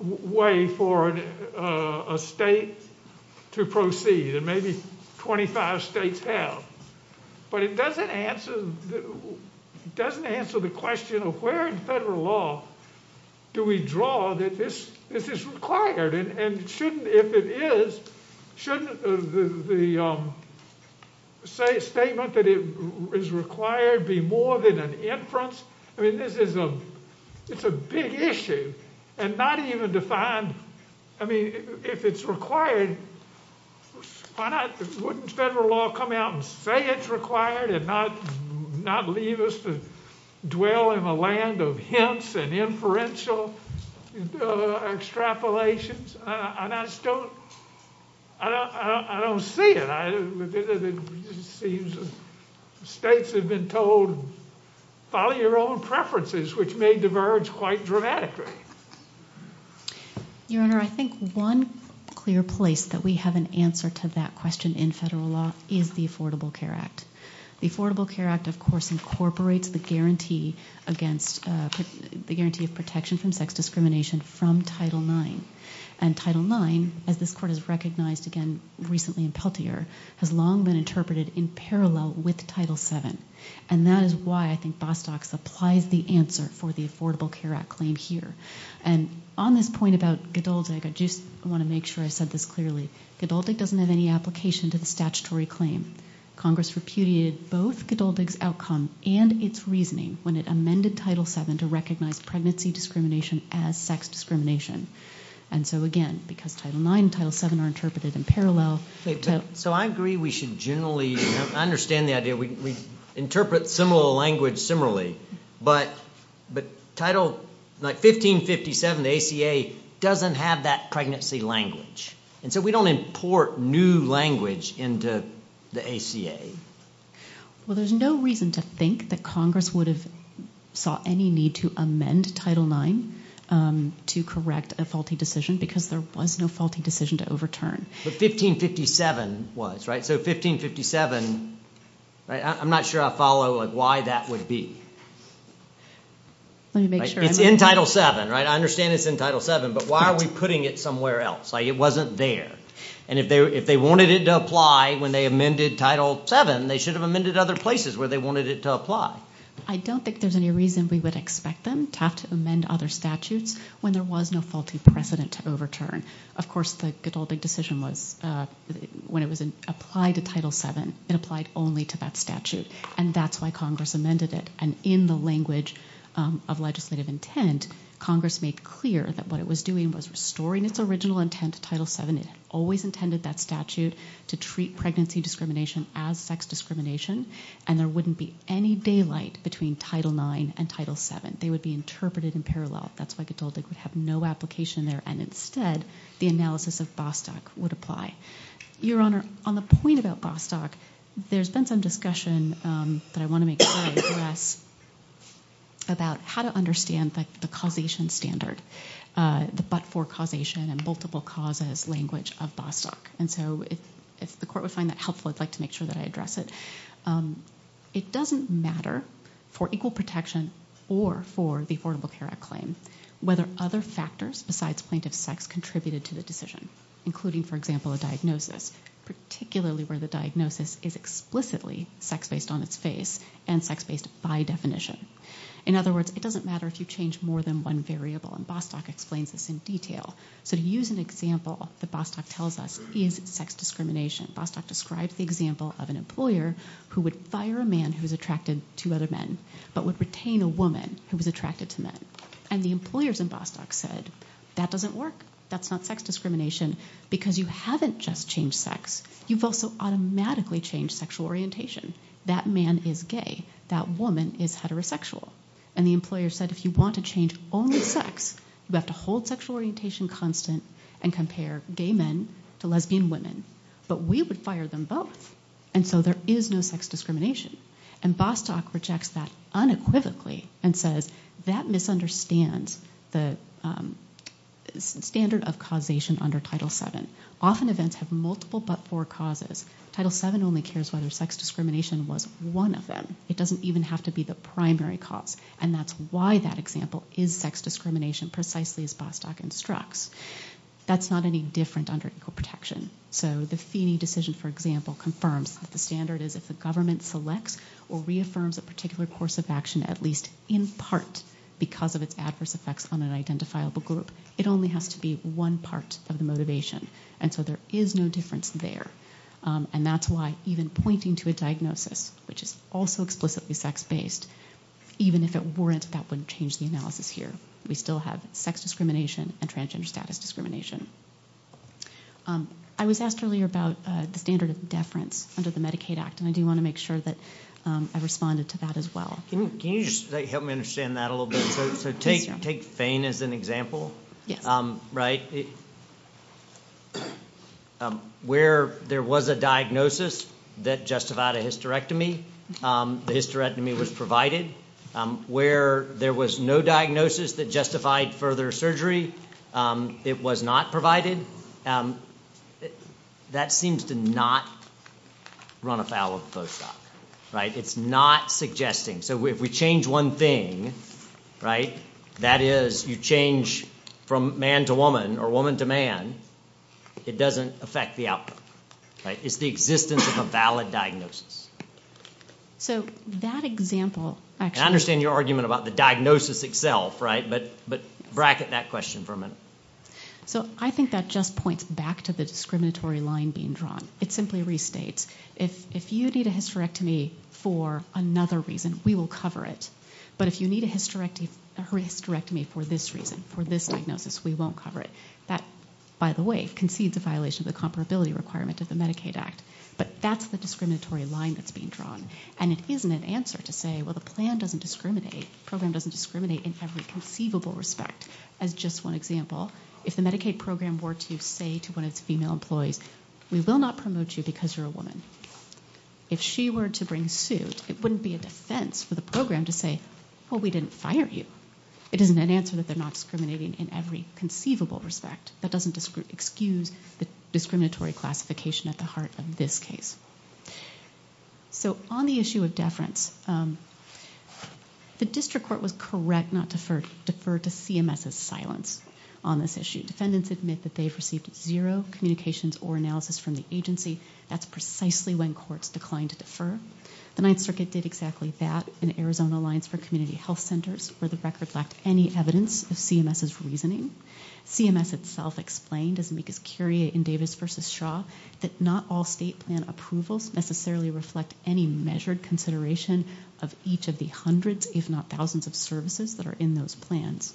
way for a state to proceed, and maybe 25 states have. But it doesn't answer the question of where in federal law do we draw that this is required, and if it is, shouldn't the statement that it is required be more than an inference? I mean, this is a big issue, and not even defined, I mean, if it's required, why wouldn't federal law come out and say it's required and not leave us to dwell in a land of hints and inferential extrapolations? And I don't see it. It seems states have been told, follow your own preferences, which may diverge quite dramatically. Your Honor, I think one clear place that we have an answer to that question in federal law is the Affordable Care Act. The Affordable Care Act, of course, incorporates the guarantee of protection from sex discrimination from Title IX, and Title IX, as this Court has recognized again recently in Peltier, has long been interpreted in parallel with Title VII, and that is why I think Bostock supplies the answer for the Affordable Care Act claim here. And on this point about Gdoldyg, I just want to make sure I said this clearly. Gdoldyg doesn't have any application to the statutory claim. Congress repudiated both Gdoldyg's outcome and its reasoning when it amended Title VII to recognize pregnancy discrimination as sex discrimination. And so, again, because Title IX and Title VII are interpreted in parallel. So I agree we should generally understand that. We interpret similar language similarly, but Title, like, 1557, the ACA, doesn't have that pregnancy language, and so we don't import new language into the ACA. Well, there's no reason to think that Congress would have saw any need to amend Title IX to correct a faulty decision, because there was no faulty decision to overturn. But 1557 was, right? So 1557, right? I'm not sure I follow why that would be. Let me make sure. It's in Title VII, right? I understand it's in Title VII, but why are we putting it somewhere else? Like, it wasn't there. And if they wanted it to apply when they amended Title VII, they should have amended other places where they wanted it to apply. I don't think there's any reason we would expect them to have to amend other statutes when there was no faulty precedent to overturn. Of course, the decision was, when it was applied to Title VII, it applied only to that statute, and that's why Congress amended it. And in the language of legislative intent, Congress made clear that what it was doing was restoring its original intent to Title VII and it always intended that statute to treat pregnancy discrimination as sex discrimination, and there wouldn't be any daylight between Title IX and Title VII. They would be interpreted in parallel. That's why I told you it would have no application there. And instead, the analysis of Bostock would apply. Your Honor, on the point about Bostock, there's been some discussion that I want to make here about how to understand the causation standard, the but-for-causation-and-multiple-causes language of Bostock. And so if the Court would find that helpful, I'd like to make sure that I address it. It doesn't matter for equal protection or for the Affordable Care Act claims whether other factors besides plaintiff's sex contributed to the decision, including, for example, a diagnosis, particularly where the diagnosis is explicitly sex-based on its face and sex-based by definition. In other words, it doesn't matter if you change more than one variable. And Bostock explains this in detail. So to use an example that Bostock tells us is sex discrimination. Bostock describes the example of an employer who would fire a man who was attracted to other men but would retain a woman who was attracted to men. And the employers in Bostock said, that doesn't work. That's not sex discrimination. Because you haven't just changed sex. You've also automatically changed sexual orientation. That man is gay. That woman is heterosexual. And the employer said, if you want to change only sex, you have to hold sexual orientation constant and compare gay men to lesbian women. But we would fire them both. And so there is no sex discrimination. And Bostock rejects that unequivocally and says that misunderstands the standard of causation under Title VII. Often events have multiple but four causes. Title VII only cares whether sex discrimination was one of them. It doesn't even have to be the primary cause. And that's why that example is sex discrimination, precisely as Bostock instructs. That's not any different under Equal Protection. So the fee decision, for example, confirms that the standard is that the government selects or reaffirms a particular course of action, at least in part, because of its adverse effects on an identifiable group. It only has to be one part of the motivation. And so there is no difference there. And that's why even pointing to a diagnosis, which is also explicitly sex-based, even if it weren't, that wouldn't change the analysis here. We still have sex discrimination and transgender status discrimination. I was asked earlier about the standard of deference under the Medicaid Act, and I do want to make sure that I responded to that as well. Can you help me understand that a little bit? So take Fain as an example, right? Yes. Where there was a diagnosis that justified a hysterectomy, the hysterectomy was provided. Where there was no diagnosis that justified further surgery, it was not provided. That seems to not run afoul of Bostock, right? It's not suggesting. So if we change one thing, right, that is you change from man to woman or woman to man, it doesn't affect the outcome, right? It's the existence of a valid diagnosis. So that example... I understand your argument about the diagnosis itself, right, but bracket that question for a minute. So I think that just points back to the discriminatory line being drawn. It simply restates if you need a hysterectomy for another reason, we will cover it. But if you need a hysterectomy for this reason, for this diagnosis, we won't cover it. That, by the way, concedes the violation to the comparability requirement of the Medicaid Act. But that's the discriminatory line that's being drawn. And it isn't an answer to say, well, the program doesn't discriminate in every conceivable respect. As just one example, if the Medicaid program were to say to one of its female employees, we will not promote you because you're a woman, if she were to bring suit, it wouldn't be a dissent for the program to say, well, we didn't fire you. It isn't an answer that they're not discriminating in every conceivable respect. That doesn't excuse the discriminatory classification at the heart of this case. So on the issue of deference, the district court was correct not to defer to CMS's silence on this issue. Defendants admit that they have received zero communications or analysis from the agency. That's precisely when courts declined to defer. The Ninth Circuit did exactly that in Arizona Alliance for Community Health Centers where the records lacked any evidence of CMS's reasoning. CMS itself explained, as Nick is curious in Davis v. Shaw, that not all state plan approvals necessarily reflect any measured consideration of each of the hundreds, if not thousands, of services that are in those plans.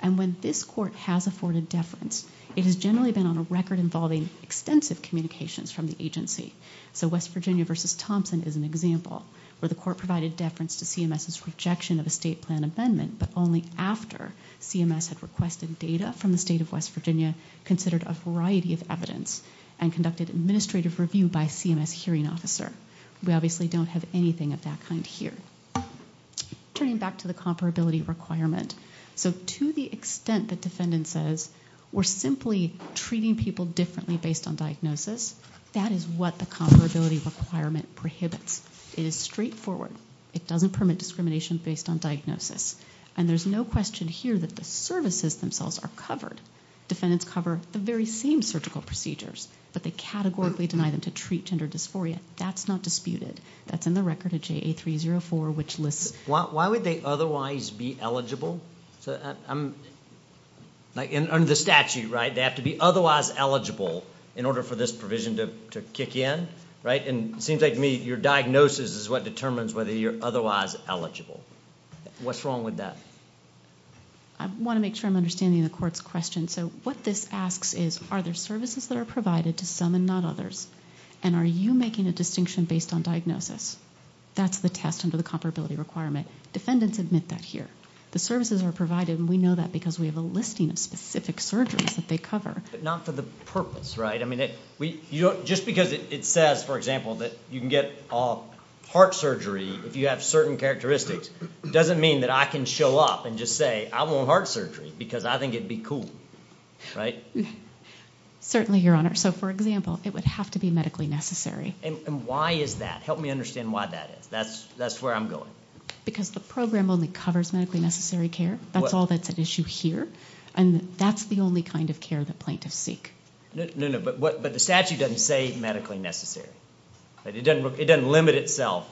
And when this court has afforded deference, it has generally been on a record involving extensive communications from the agency. So West Virginia v. Thompson is an example where the court provided deference to CMS's rejection of a state plan amendment, but only after CMS had requested data from the state of West Virginia, considered a variety of evidence, and conducted administrative review by a CMS hearing officer. We obviously don't have anything of that kind here. Turning back to the comparability requirement. So to the extent that defendant says we're simply treating people differently based on diagnosis, that is what the comparability requirement prohibits. It is straightforward. It doesn't permit discrimination based on diagnosis. And there's no question here that the services themselves are covered. Defendants cover the very same surgical procedures, but they categorically deny them to treat gender dysphoria. That's not disputed. That's in the record of JA304, which lists it. Why would they otherwise be eligible? Under the statute, right, they have to be otherwise eligible in order for this provision to kick in, right? And it seems like to me your diagnosis is what determines whether you're otherwise eligible. What's wrong with that? I want to make sure I'm understanding the court's question. So what this asks is, are there services that are provided to some and not others? And are you making a distinction based on diagnosis? That's the test under the comparability requirement. Defendants admit that here. The services are provided, and we know that because we have a listing of specific surgeries that they cover. But not for the purpose, right? I mean, just because it says, for example, that you can get heart surgery if you have certain characteristics doesn't mean that I can show up and just say, I want heart surgery because I think it would be cool, right? Certainly, Your Honor. So, for example, it would have to be medically necessary. And why is that? Help me understand why that is. That's where I'm going. Because the program only covers medically necessary care. That's all that's at issue here. And that's the only kind of care that plaintiffs seek. No, no, but the statute doesn't say medically necessary. It doesn't limit itself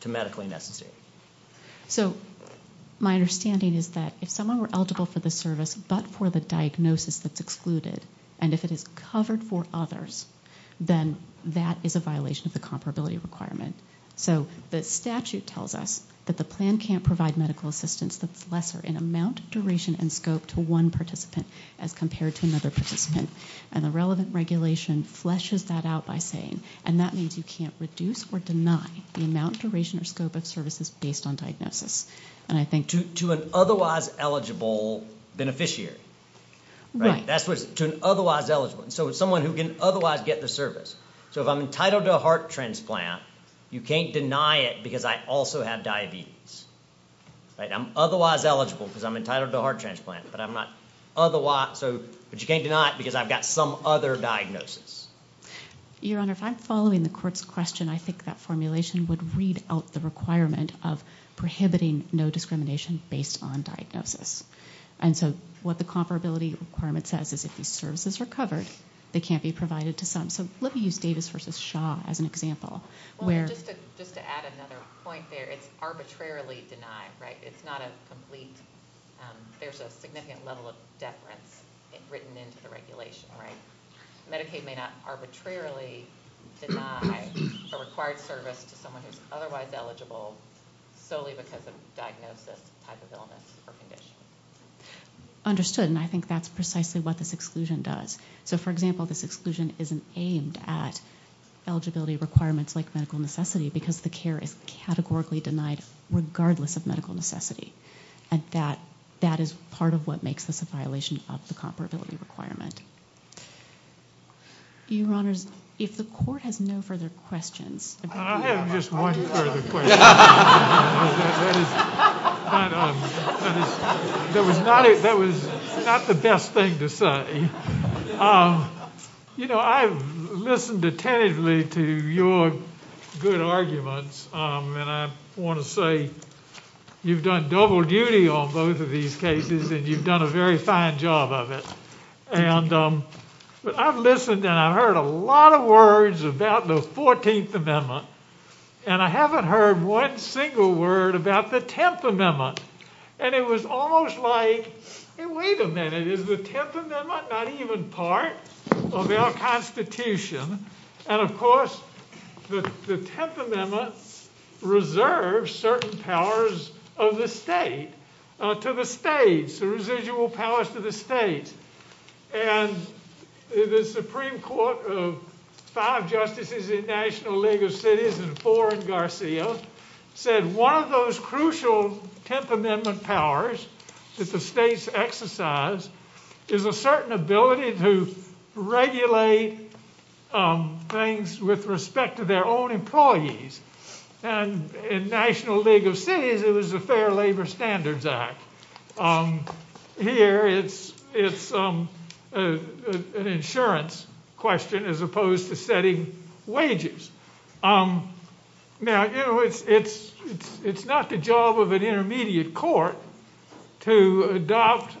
to medically necessary. So my understanding is that if someone were eligible for the service but for the diagnosis that's excluded, and if it is covered for others, then that is a violation of the comparability requirement. So the statute tells us that the plan can't provide medical assistance that's lesser in amount, duration, and scope to one participant as compared to another participant. And the relevant regulation fleshes that out by saying, and that means you can't reduce or deny the amount, duration, or scope of services based on diagnosis. To an otherwise eligible beneficiary. To an otherwise eligible. So someone who can otherwise get the service. So if I'm entitled to a heart transplant, you can't deny it because I also have diabetes. I'm otherwise eligible because I'm entitled to a heart transplant, but you can't deny it because I've got some other diagnosis. Your Honor, if I'm following the court's question, I think that formulation would read out the requirement of prohibiting no discrimination based on diagnosis. And so what the comparability requirement says is if these services are covered, they can't be provided to some. So let me use Davis v. Shaw as an example. Just to add another point there, it's arbitrarily denied, right? It's not a complete, there's a significant level of deference written into the regulation, right? Medicaid may not arbitrarily deny the required service to someone who's otherwise eligible solely because of diagnosis as an illness or condition. Understood, and I think that's precisely what this exclusion does. So, for example, this exclusion isn't aimed at eligibility requirements like medical necessity because the care is categorically denied regardless of medical necessity. That is part of what makes this a violation of the comparability requirement. Your Honor, if the court has no further questions. I have just one further question. That was not the best thing to say. You know, I've listened attentively to your good arguments and I want to say you've done double duty on both of these cases and you've done a very fine job of it. And I've listened and I've heard a lot of words about the 14th Amendment and I haven't heard one single word about the 10th Amendment. And it was almost like, hey, wait a minute, is the 10th Amendment not even part of our Constitution? And, of course, the 10th Amendment reserves certain powers of the state, to the states, the residual powers to the states. And the Supreme Court of five justices in the National League of Cities and four in Garcia said one of those crucial 10th Amendment powers that the states exercise is a certain ability to regulate things with respect to their own employees. And in National League of Cities it was the Fair Labor Standards Act. Here it's an insurance question as opposed to setting wages. Now, it's not the job of an intermediate court to adopt,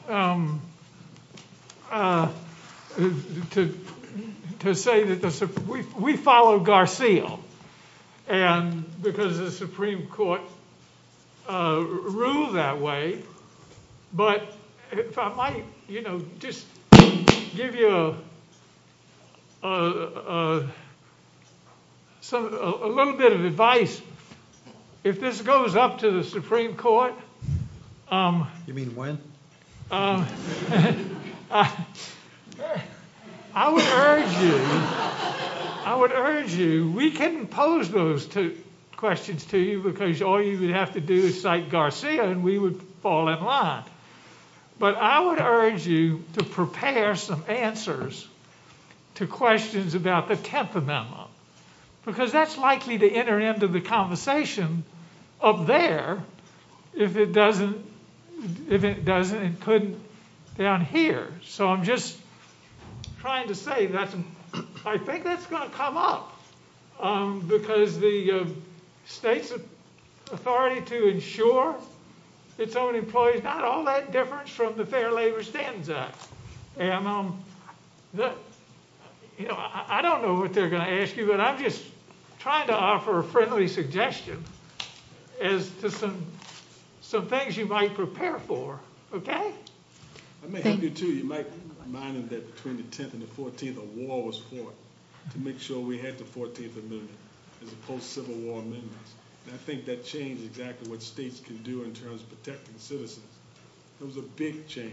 to say that we follow Garcia because the Supreme Court ruled that way. But if I might just give you a little bit of advice. If this goes up to the Supreme Court. You mean when? I would urge you, I would urge you, we couldn't pose those questions to you because all you would have to do is cite Garcia and we would fall in line. But I would urge you to prepare some answers to questions about the 10th Amendment because that's likely to enter into the conversation up there if it doesn't and couldn't down here. So I'm just trying to say that I think that's going to come up because the state's authority to insure its own employees, not all that different from the Fair Labor Standards Act. And I don't know what they're going to ask you, but I'm just trying to offer a friendly suggestion as to some things you might prepare for, okay? I may help you too. You might remind them that between the 10th and the 14th a war was fought to make sure we had the 14th Amendment. It was a post-Civil War amendment. And I think that changed exactly what states can do in terms of protecting citizens. It was a big change.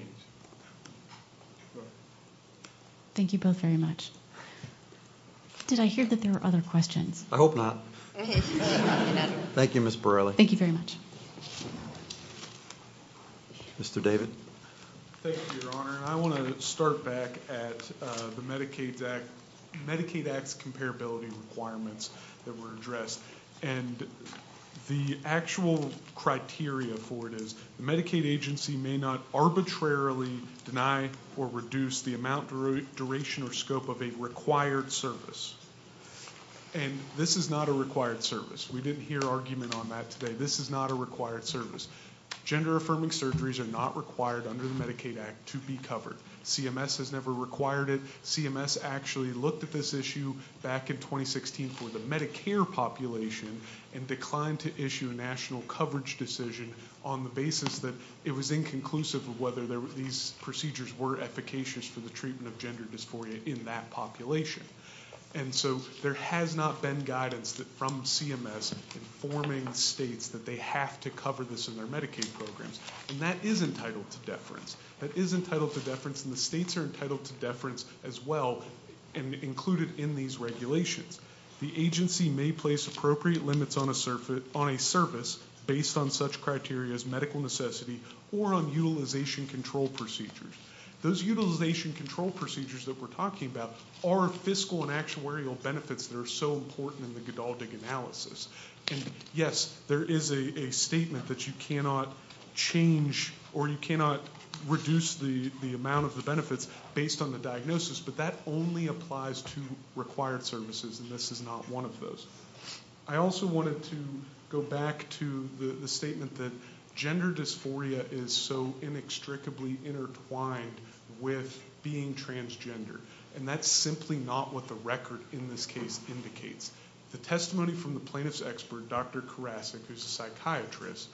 Thank you both very much. And I hear that there are other questions. I hope not. Okay. Thank you, Ms. Borelli. Thank you very much. Mr. David. Thank you, Your Honor. And I want to start back at the Medicaid Act's comparability requirements that were addressed. And the actual criteria for it is Medicaid agency may not arbitrarily deny or reduce the amount, duration, or scope of a required service. And this is not a required service. We didn't hear argument on that today. This is not a required service. Gender-affirming surgeries are not required under the Medicaid Act to be covered. CMS has never required it. CMS actually looked at this issue back in 2016 for the Medicare population and declined to issue a national coverage decision on the basis that it was inconclusive of whether these procedures were efficacious for the treatment of gender dysphoria in that population. And so there has not been guidance from CMS informing states that they have to cover this in their Medicaid programs. That is entitled to deference. And the states are entitled to deference as well and included in these regulations. The agency may place appropriate limits on a service based on such criteria as medical necessity or on utilization control procedures. Those utilization control procedures that we're talking about are fiscal and actuarial benefits that are so important in the GDALG analysis. And, yes, there is a statement that you cannot change or you cannot reduce the amount of the benefits based on the diagnosis, but that only applies to required services, and this is not one of those. I also wanted to go back to the statement that gender dysphoria is so inextricably intertwined with being transgender, and that's simply not what the record in this case indicates. The testimony from the plaintiff's expert, Dr. Karasik, who's a psychiatrist,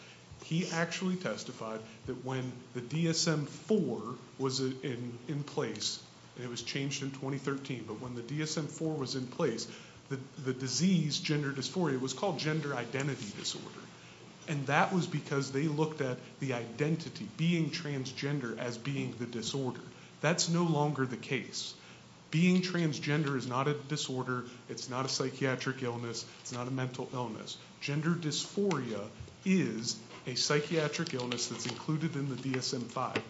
he actually testified that when the DSM-IV was in place, and it was changed in 2013, but when the DSM-IV was in place, the disease, gender dysphoria, was called gender identity disorder. And that was because they looked at the identity, being transgender, as being the disorder. That's no longer the case. Being transgender is not a disorder, it's not a psychiatric illness, it's not a mental illness. Gender dysphoria is a psychiatric illness that's included in the DSM-V.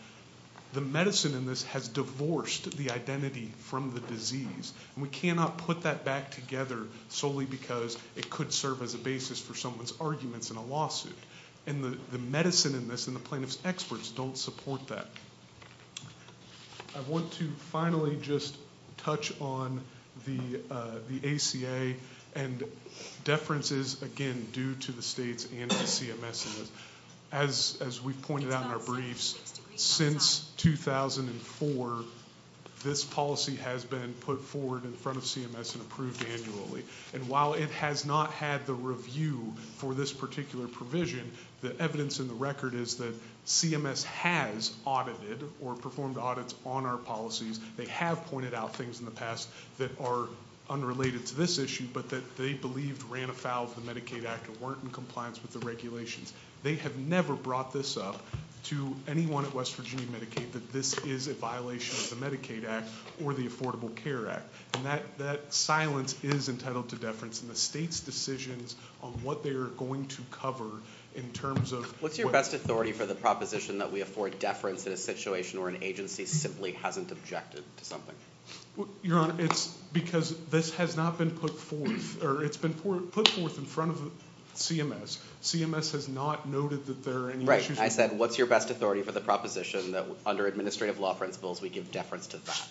The medicine in this has divorced the identity from the disease. We cannot put that back together solely because it could serve as a basis for someone's arguments in a lawsuit. And the medicine in this and the plaintiff's experts don't support that. I want to finally just touch on the ACA and deferences, again, due to the states and CMSs. As we pointed out in our briefs, since 2004, this policy has been put forward in front of CMS and approved annually. And while it has not had the review for this particular provision, the evidence in the record is that CMS has audited or performed audits on our policies. They have pointed out things in the past that are unrelated to this issue, but that they believe ran afoul of the Medicaid Act and weren't in compliance with the regulations. They have never brought this up to anyone at West Virginia Medicaid that this is a violation of the Medicaid Act or the Affordable Care Act. And that silence is entitled to deference, and the state's decisions on what they are going to cover in terms of... What's your best authority for the proposition that we afford deference to a situation where an agency simply hasn't objected to something? Your Honor, it's because this has not been put forth, or it's been put forth in front of CMS. CMS has not noted that there are any issues... Right. I said, what's your best authority for the proposition that under administrative law principles we give deference to that?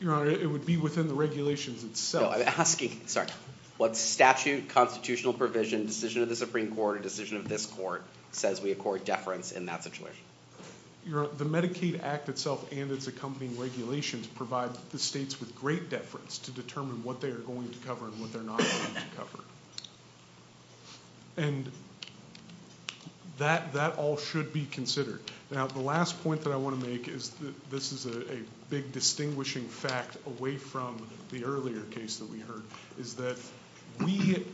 Your Honor, it would be within the regulations itself. I'm asking, sorry, what statute, constitutional provision, decision of the Supreme Court, or decision of this Court, says we accord deference in that situation? Your Honor, the Medicaid Act itself and its accompanying regulations provide the states with great deference to determine what they are going to cover and what they're not going to cover. And that all should be considered. Now, the last point that I want to make is that this is a big distinguishing fact away from the earlier case that we heard, is that we,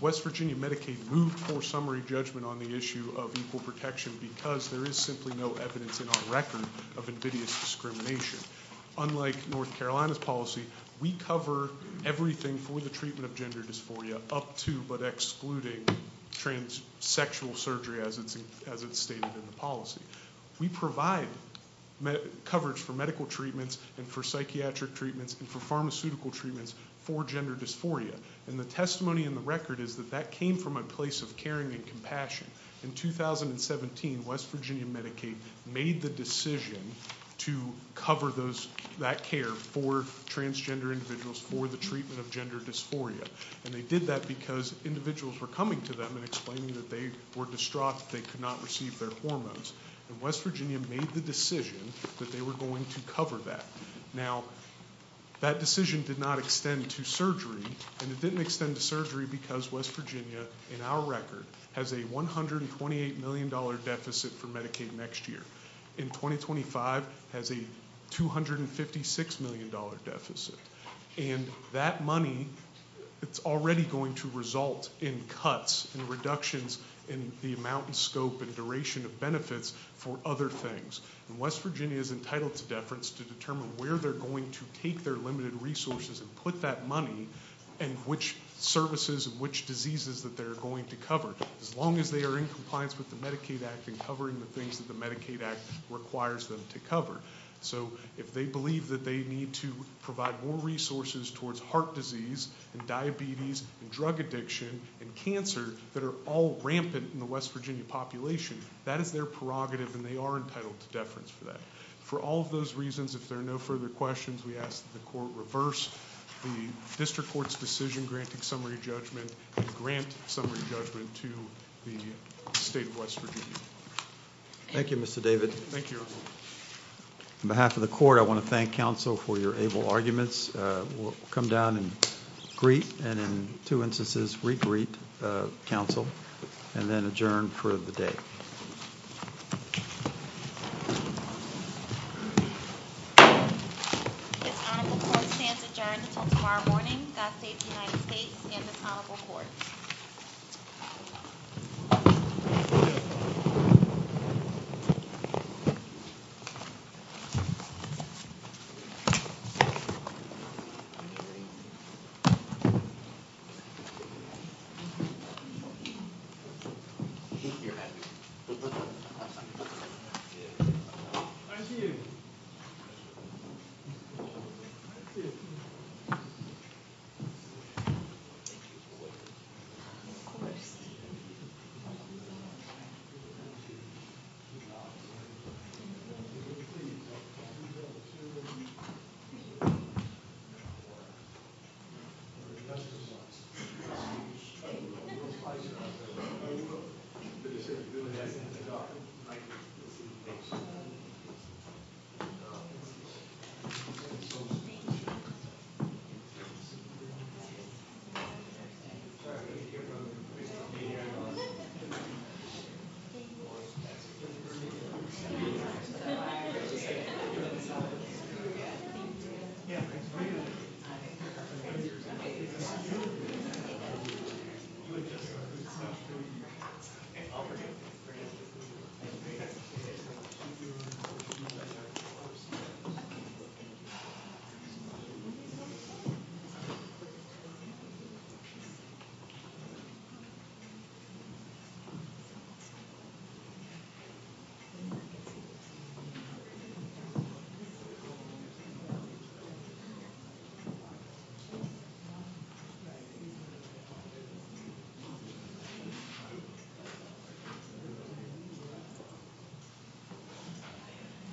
West Virginia Medicaid, moved for summary judgment on the issue of equal protection because there is simply no evidence in our record of invidious discrimination. Unlike North Carolina's policy, we cover everything for the treatment of gender dysphoria up to but excluding transsexual surgery as it's stated in the policy. We provide coverage for medical treatments and for psychiatric treatments and for pharmaceutical treatments for gender dysphoria. And the testimony in the record is that that came from a place of caring and compassion. In 2017, West Virginia Medicaid made the decision to cover that care for transgender individuals for the treatment of gender dysphoria. And they did that because individuals were coming to them and explaining that they were distraught, they could not receive their hormones. And West Virginia made the decision that they were going to cover that. Now, that decision did not extend to surgery. And it didn't extend to surgery because West Virginia, in our record, has a $128 million deficit for Medicaid next year. In 2025, it has a $256 million deficit. And that money is already going to result in cuts and reductions in the amount and scope and duration of benefits for other things. And West Virginia is entitled to deference to determine where they're going to take their limited resources and put that money and which services and which diseases that they're going to cover, as long as they are in compliance with the Medicaid Act and covering the things that the Medicaid Act requires them to cover. So if they believe that they need to provide more resources towards heart disease and diabetes and drug addiction and cancer that are all rampant in the West Virginia population, that is their prerogative, and they are entitled to deference for that. For all of those reasons, if there are no further questions, we ask that the Court reverse the District Court's decision in granting summary judgment and grant summary judgment to the State of West Virginia. Thank you, Mr. David. Thank you, everyone. On behalf of the Court, I want to thank counsel for your able arguments. We'll come down and greet and, in two instances, re-greet counsel and then adjourn for the day. Thank you. With that, the Court stands adjourned until tomorrow morning. God save the United States and the Honorable Court. Thank you. Thank you. Thank you. Thank you.